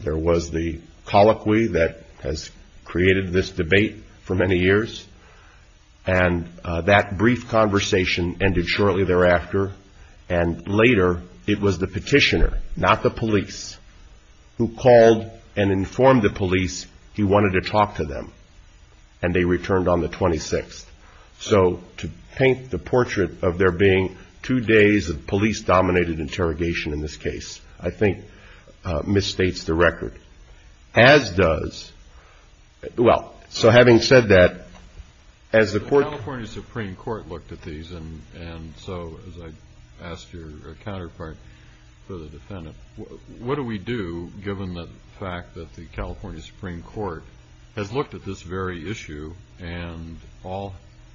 there was the colloquy that has created this debate for many years. And that brief conversation ended shortly thereafter. And later, it was the Petitioner, not the police, who called and informed the police he wanted to talk to them, and they returned on the 26th. So to paint the portrait of there being two days of police-dominated interrogation in this case, I think, misstates the record. As does, well, so having said that, as the court... for the defendant, what do we do, given the fact that the California Supreme Court has looked at this very issue and all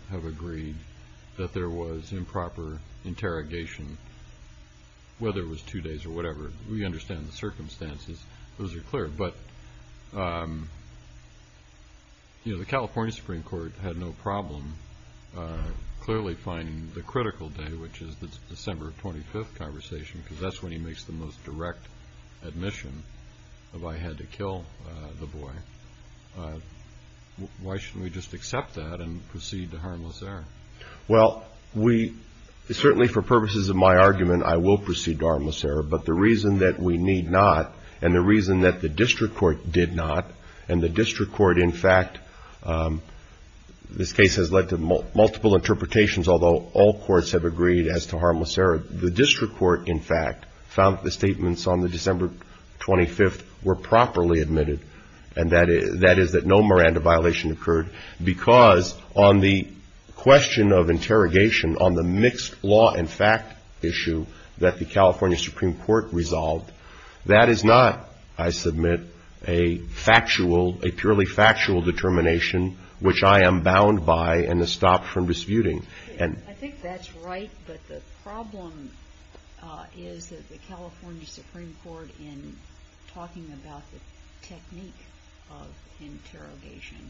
have agreed that there was improper interrogation, whether it was two days or whatever? We understand the circumstances. Those are clear. But the California Supreme Court had no problem clearly finding the critical day, which is the December 25th conversation, because that's when he makes the most direct admission of, I had to kill the boy. Why shouldn't we just accept that and proceed to harmless error? Well, we, certainly for purposes of my argument, I will proceed to harmless error, but the reason that we need not, and the reason that the district court did not, and the district court, in fact, this case has led to multiple interpretations, although all courts have agreed as to harmless error, the district court, in fact, found that the statements on the December 25th were properly admitted, and that is that no Miranda violation occurred, because on the question of interrogation on the mixed law and fact issue that the California Supreme Court resolved, that is not, I submit, a factual, a purely factual determination, which I am bound by and have stopped from disputing. I think that's right, but the problem is that the California Supreme Court, in talking about the technique of interrogation,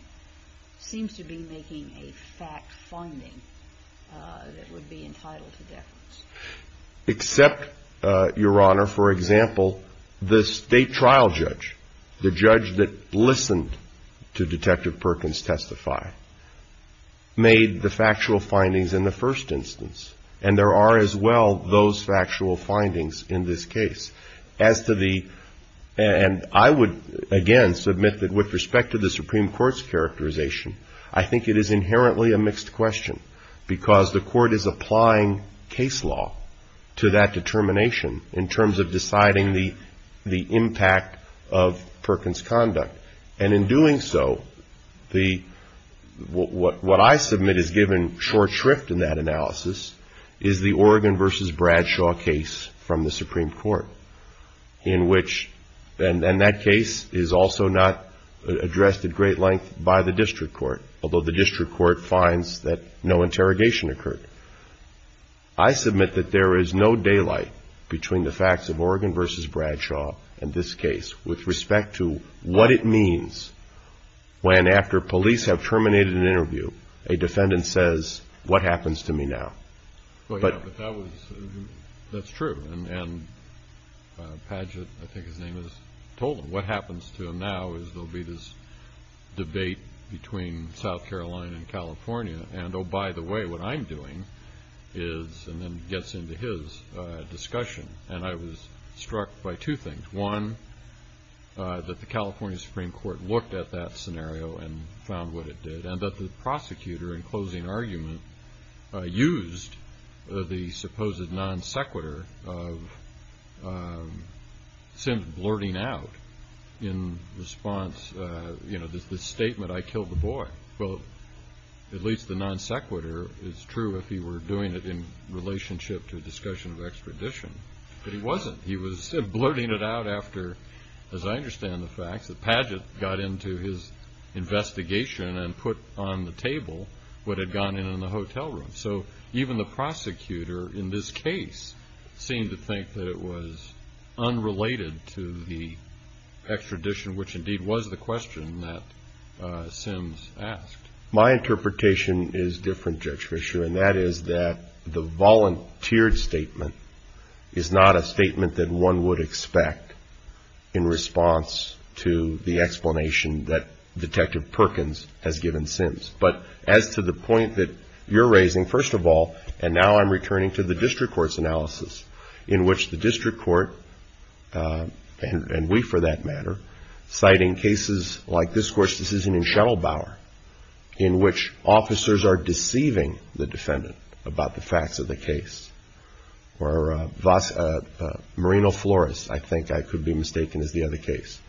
seems to be making a fact finding that would be entitled to deference. Except, Your Honor, for example, the state trial judge, the judge that listened to Detective Perkins testify, made the factual findings in the first instance, and there are as well those factual findings in this case. As to the, and I would, again, submit that with respect to the Supreme Court's characterization, I think it is inherently a mixed question, because the court is applying case law to that determination in terms of deciding the impact of Perkins' conduct. And in doing so, the, what I submit is given short shrift in that analysis, is the Oregon versus Bradshaw case from the Supreme Court, in which, and that case is also not addressed at great length by the district court, although the district court finds that no interrogation occurred. I submit that there is no daylight between the facts of Oregon versus Bradshaw and this case with respect to what it means when, after police have terminated an interview, a defendant says, what happens to me now? Well, yeah, but that was, that's true, and Paget, I think his name is, told him, what happens to him now is there'll be this debate between South Carolina and California, and oh, by the way, what I'm doing is, and then gets into his discussion, and I was struck by two things. One, that the California Supreme Court looked at that scenario and found what it did, and that the prosecutor, in closing argument, used the supposed non-sequitur of Sims blurting out in response, you know, this statement, I killed the boy. Well, at least the non-sequitur is true if he were doing it in relationship to a discussion of extradition, but it wasn't. He was blurting it out after, as I understand the facts, that Paget got into his investigation and put on the table what had gone in the hotel room. So even the prosecutor in this case seemed to think that it was unrelated to the extradition, which indeed was the question that Sims asked. My interpretation is different, Judge Fischer, and that is that the volunteered statement is not a statement that one would expect in response to the explanation that Detective Perkins has given Sims. But as to the point that you're raising, first of all, and now I'm returning to the district court's analysis, in which the district court, and we for that matter, citing cases like this court's decision in Shuttlebauer, in which officers are deceiving the defendant about the facts of the case, or Marino Flores, I think I could be mistaken as the other case.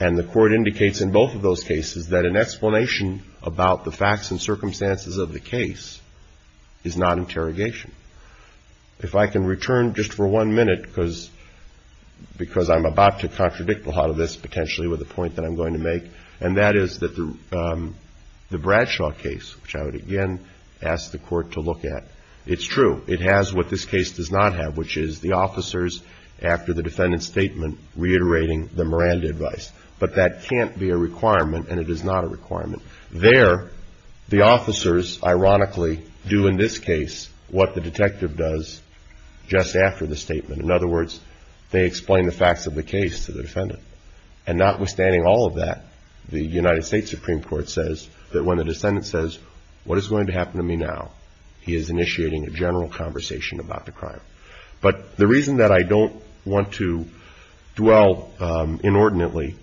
And the court indicates in both of those cases that an explanation about the facts and circumstances of the case is not interrogation. If I can return just for one minute, because I'm about to contradict a lot of this potentially with a point that I'm going to make, and that is that the Bradshaw case, which I would again ask the court to look at, it's true. It has what this case does not have, which is the officers, after the defendant's statement, reiterating the Miranda advice. But that can't be a requirement, and it is not a requirement. There, the officers, ironically, do in this case what the detective does just after the statement. In other words, they explain the facts of the case to the defendant. And notwithstanding all of that, the United States Supreme Court says that when the defendant says, what is going to happen to me now, he is initiating a general conversation about the crime. But the reason that I don't want to dwell inordinately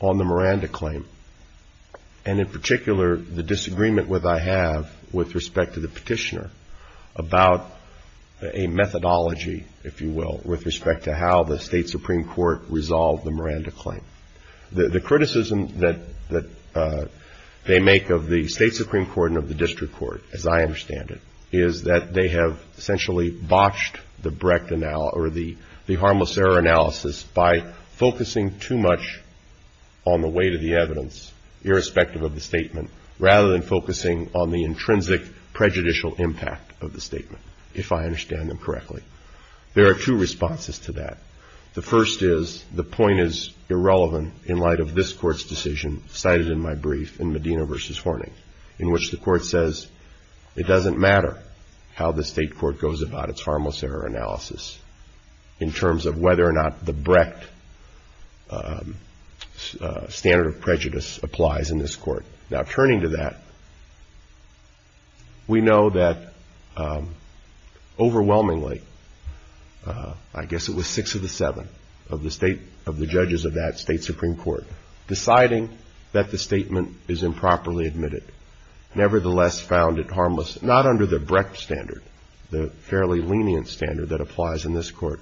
on the Miranda claim, and in particular the disagreement that I have with respect to the petitioner about a methodology, if you will, with respect to how the State Supreme Court resolved the Miranda claim. The criticism that they make of the State Supreme Court and of the district court, as I understand it, is that they have essentially botched the Brecht analysis, or the harmless error analysis, by focusing too much on the weight of evidence, irrespective of the statement, rather than focusing on the intrinsic prejudicial impact of the statement, if I understand them correctly. There are two responses to that. The first is, the point is irrelevant in light of this court's decision cited in my brief in Medina v. Horning, in which the court says it doesn't matter how the state court goes about its harmless error analysis in terms of whether or not the state supreme court decides that the statement is improperly admitted. Nevertheless, found it harmless, not under the Brecht standard, the fairly lenient standard that applies in this court,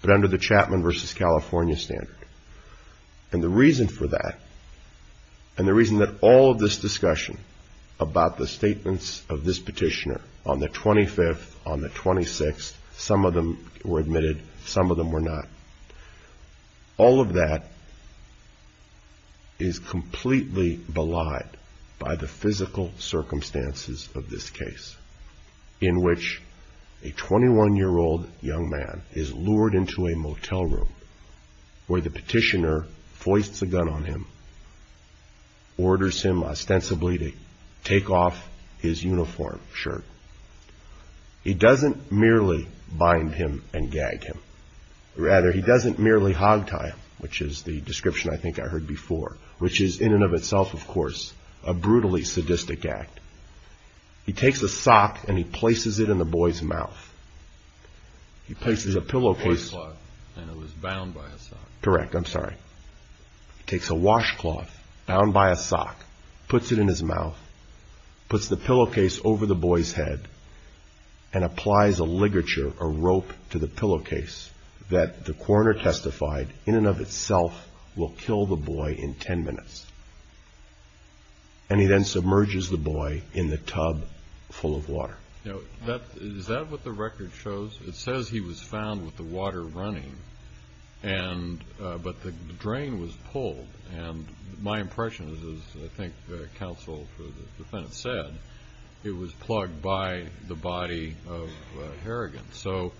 but under the Chapman v. California standard. decided that the statement was improperly admitted. And the reason that all of this discussion about the statements of this petitioner on the 25th, on the 26th, some of them were admitted, some of them were not, all of that is completely belied by the physical circumstances of this case, in which a 21-year-old young man is lured into a motel room where the petitioner foists a gun on him, orders him ostensibly to take off his uniform shirt. He doesn't merely bind him and gag him. Rather, he doesn't merely hogtie him, which is the description I think I heard before, which is in and of itself, of course, a brutally sadistic act. He takes a sock and he places it in the boy's mouth. He places a pillowcase. Correct, I'm sorry. He takes a washcloth bound by a sock, puts it in his mouth, puts the pillowcase over the boy's head, and applies a ligature, a rope to the pillowcase that the coroner testified in and of itself will kill the boy in 10 minutes. And he then submerges the boy in the tub full of water. Is that what the record shows? It says he was found with the water running, but the drain was pulled. And my impression is, as I think counsel for the defendant said, it was plugged by the body of Harrigan. So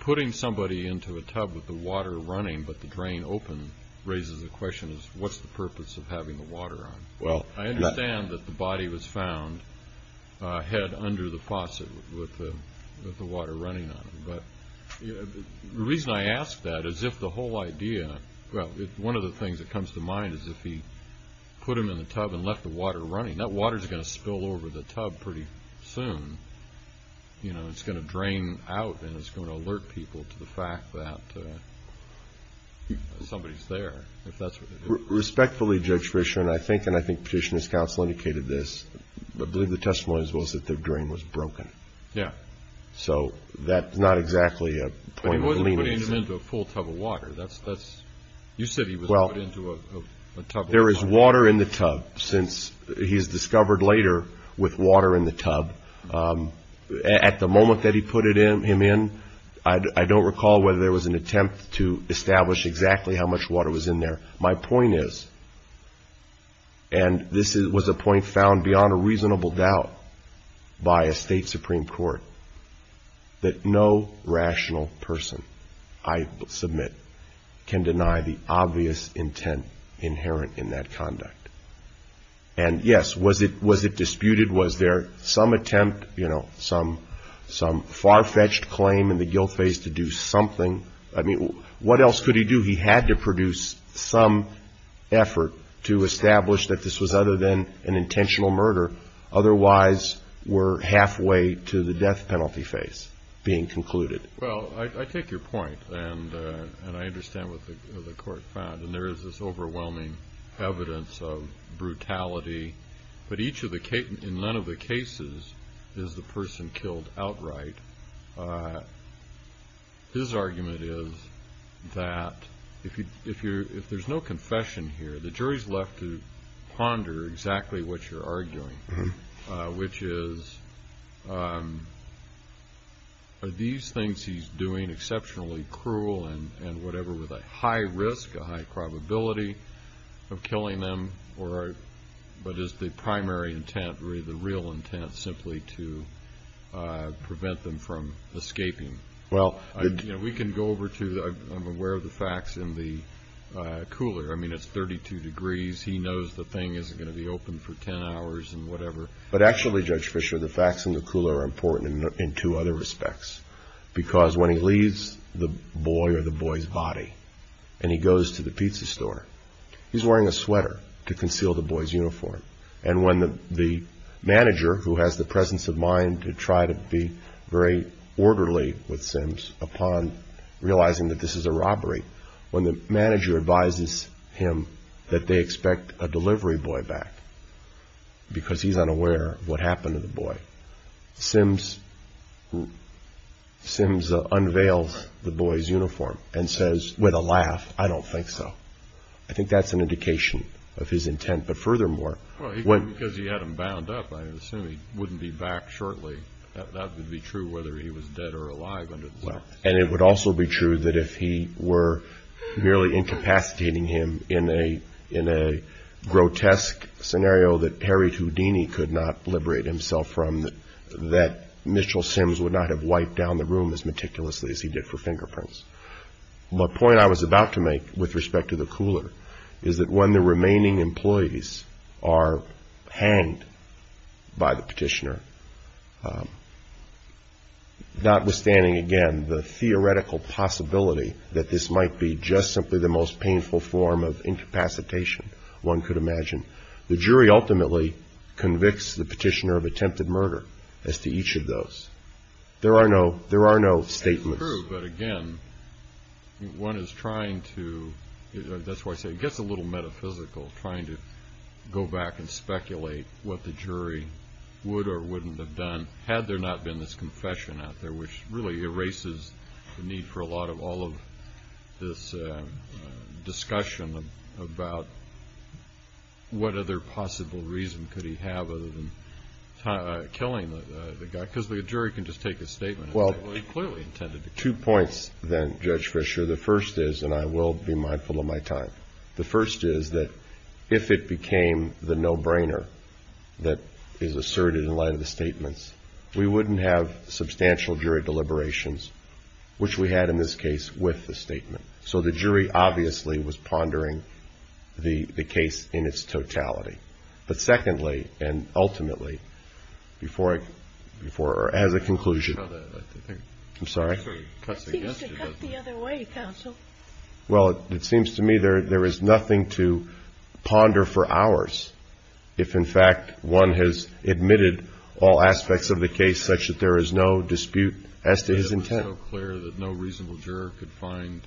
putting somebody into a tub with the water running but the drain open raises the question of what's the purpose of having the water on? I understand that the body was found head under the faucet with the water running on it, but the reason I ask that is if the whole idea, well, one of the things that comes to mind is if he put him in the tub and left the water running, that water's going to spill over the tub pretty soon. It's going to drain out and it's going to alert people to the fact that somebody's there, if that's what it is. Respectfully, Judge Fischer, and I think Petitioner's counsel indicated this, I believe the testimony was that the drain was broken. So that's not exactly a point of leniency. But he wasn't putting him into a full tub of water. You said he was put into a tub of water. There is water in the tub, since he's discovered later with water in the tub. At the moment that he put him in, I don't recall whether there was an attempt to establish exactly how much water was in there. My point is, and this was a point found beyond a reasonable doubt by a state Supreme Court, that no rational person, I submit, can deny the obvious intent inherent in that conduct. And yes, was it disputed? Was there some attempt, some far-fetched claim in the guilt phase to do something? I mean, what else could he do? He had to produce some effort to establish that this was other than an intentional murder, otherwise we're halfway to the death penalty phase being concluded. Well, I take your point, and I understand what the Court found. And there is this overwhelming evidence of brutality. But in none of the cases is the person killed outright. His argument is that if there's no confession here, the jury's left to ponder exactly what you're arguing, which is, are these things he's doing exceptionally cruel and whatever, with a high risk, a high probability of killing them, but is the primary intent, the real intent, simply to prevent them from escaping? We can go over to, I'm aware of the facts in the cooler. I mean, it's 32 degrees. He knows the thing isn't going to be open for 10 hours and whatever. But actually, Judge Fischer, the facts in the cooler are important in two other respects, because when he leaves the boy or the boy's body and he goes to the pizza store, he's wearing a sweater to conceal the boy's uniform. And when the manager, who has the presence of mind to try to be very orderly with Sims upon realizing that this is a robbery, when the manager advises him that they expect a delivery boy back because he's unaware of what happened to the boy, Sims unveils the boy's uniform and says with a laugh, I don't think so. I think that's an indication of his intent. But furthermore, because he had him bound up, I assume he wouldn't be back shortly. That would be true whether he was dead or alive. And it would also be true that if he were merely incapacitating him in a grotesque scenario that Harry Houdini could not liberate himself from, that Mitchell Sims would not have wiped down the room as meticulously as he did for fingerprints. My point I was about to make with respect to the cooler is that when the remaining employees are hanged by the petitioner, notwithstanding again the theoretical possibility that this might be just simply the most painful form of incapacitation one could imagine, the jury ultimately convicts the petitioner of attempted murder as to each of those. There are no statements. That's true. But again, one is trying to, that's why I say it gets a little metaphysical trying to go back and speculate what the jury would or wouldn't have done had there not been this confession out there, which really erases the need for a lot of all of this discussion about what other possible reason could he have other than killing the guy? Because the jury can just take a statement. Well, two points then, Judge Fischer. The first is, and I will be mindful of my time. The first is that if it became the no-brainer that is asserted in light of the statements, we wouldn't have substantial jury deliberations, which we had in this case with the statement. So the jury obviously was pondering the case in its totality. But secondly, and ultimately, before I, as a conclusion. I'm sorry. It seems to cut the other way, counsel. Well, it seems to me there is nothing to ponder for hours if, in fact, one has admitted all aspects of the case such that there is no dispute as to his intent. It's so clear that no reasonable juror could find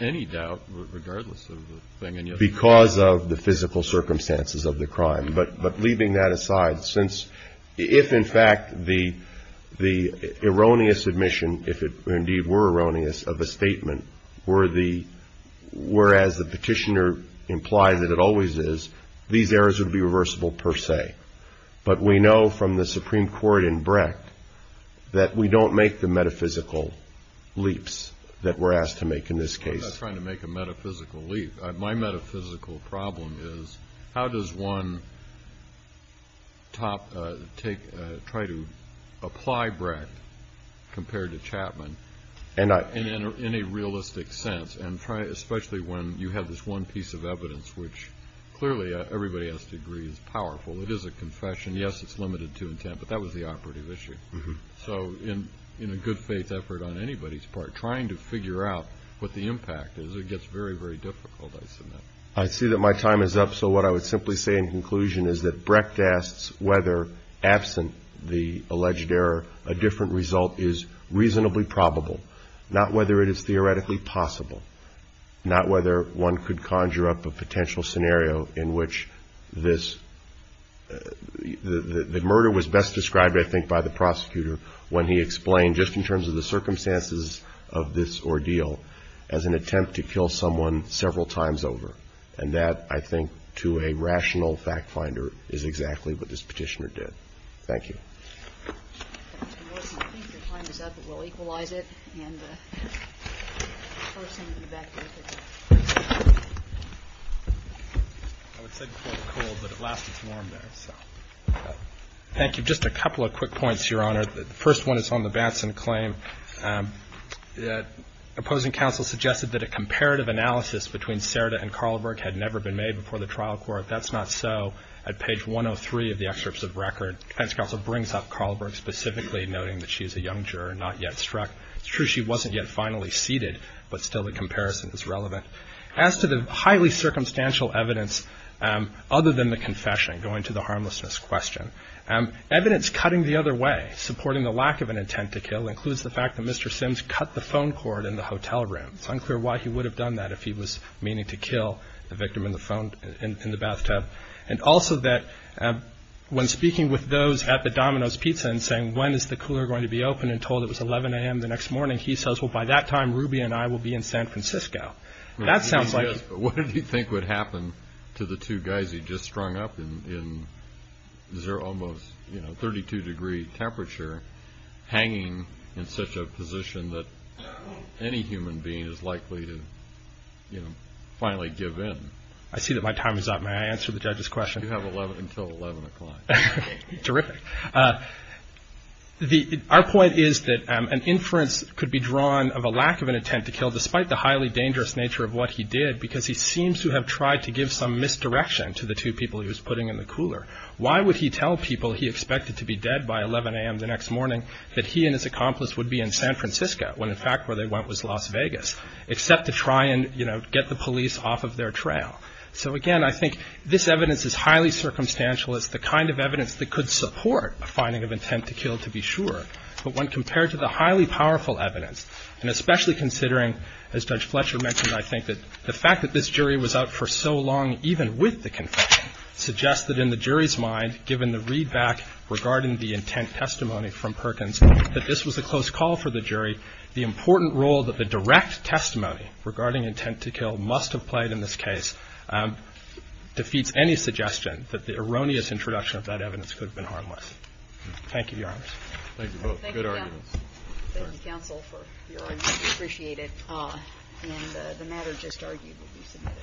any doubt regardless of the thing. Because of the physical circumstances of the crime. But leaving that aside, since if, in fact, the erroneous admission, if it indeed were erroneous, of a statement were the, whereas the petitioner implied that it always is, these errors would be reversible per se. But we know from the Supreme Court in Brecht that we don't make the metaphysical leaps that we're asked to make in this case. I'm not trying to make a metaphysical leap. My metaphysical problem is how does one top take, try to apply Brecht compared to Chapman in a realistic sense and try, especially when you have this one piece of evidence, which clearly everybody has to agree is powerful. It is a confession. Yes, it's limited to intent, but that was the operative issue. So in a good faith effort on anybody's part, trying to figure out what the impact is, it gets very, very difficult, I submit. I see that my time is up. So what I would simply say in conclusion is that Brecht asks whether, absent the alleged error, a different result is reasonably probable. Not whether it is theoretically possible. Not whether one could conjure up a potential scenario in which this, the murder was best described, I think, by the prosecutor when he explained, just in terms of the circumstances of this ordeal, as an attempt to kill someone several times over. And that, I think, to a rational fact finder is exactly what this Petitioner did. Thank you. Ms. Morrison, I think your time is up. We'll equalize it. And the person in the back there. I would say before the cold, but at last it's warm there, so. Thank you. Just a couple of quick points, Your Honor. The first one is on the Batson claim. Opposing counsel suggested that a comparative analysis between Cerda and Carleberg had never been made before the trial court. That's not so. At page 103 of the excerpts of record, defense counsel brings up Carleberg specifically, noting that she is a young juror, not yet struck. It's true she wasn't yet finally seated, but still the comparison is relevant. As to the highly circumstantial evidence, other than the confession, going to the attempt to kill includes the fact that Mr. Sims cut the phone cord in the hotel room. It's unclear why he would have done that if he was meaning to kill the victim in the bathtub. And also that when speaking with those at the Domino's Pizza and saying when is the cooler going to be open and told it was 11 a.m. the next morning, he says, well, by that time, Ruby and I will be in San Francisco. That sounds like. Yes, but what did he think would happen to the two guys he just strung up in almost 32 degree temperature hanging in such a position that any human being is likely to finally give in? I see that my time is up. May I answer the judge's question? You have until 11 o'clock. Terrific. Our point is that an inference could be drawn of a lack of an attempt to kill despite the highly dangerous nature of what he did because he seems to have tried to give some misdirection to the two people he was putting in the cooler. Why would he tell people he expected to be dead by 11 a.m. the next morning that he and his accomplice would be in San Francisco when, in fact, where they went was Las Vegas, except to try and get the police off of their trail. So, again, I think this evidence is highly circumstantial. It's the kind of evidence that could support a finding of intent to kill, to be sure. But when compared to the highly powerful evidence, and especially considering, as Judge Fletcher mentioned, I think that the fact that this jury was out for so long, even with the confession, suggests that in the jury's mind, given the readback regarding the intent testimony from Perkins, that this was a close call for the jury. The important role that the direct testimony regarding intent to kill must have played in this case defeats any suggestion that the erroneous introduction of that evidence could have been harmless. Thank you, Your Honors. Thank you both. Good arguments. Thank you, counsel, for your argument. We appreciate it. And the matter just argued will be submitted.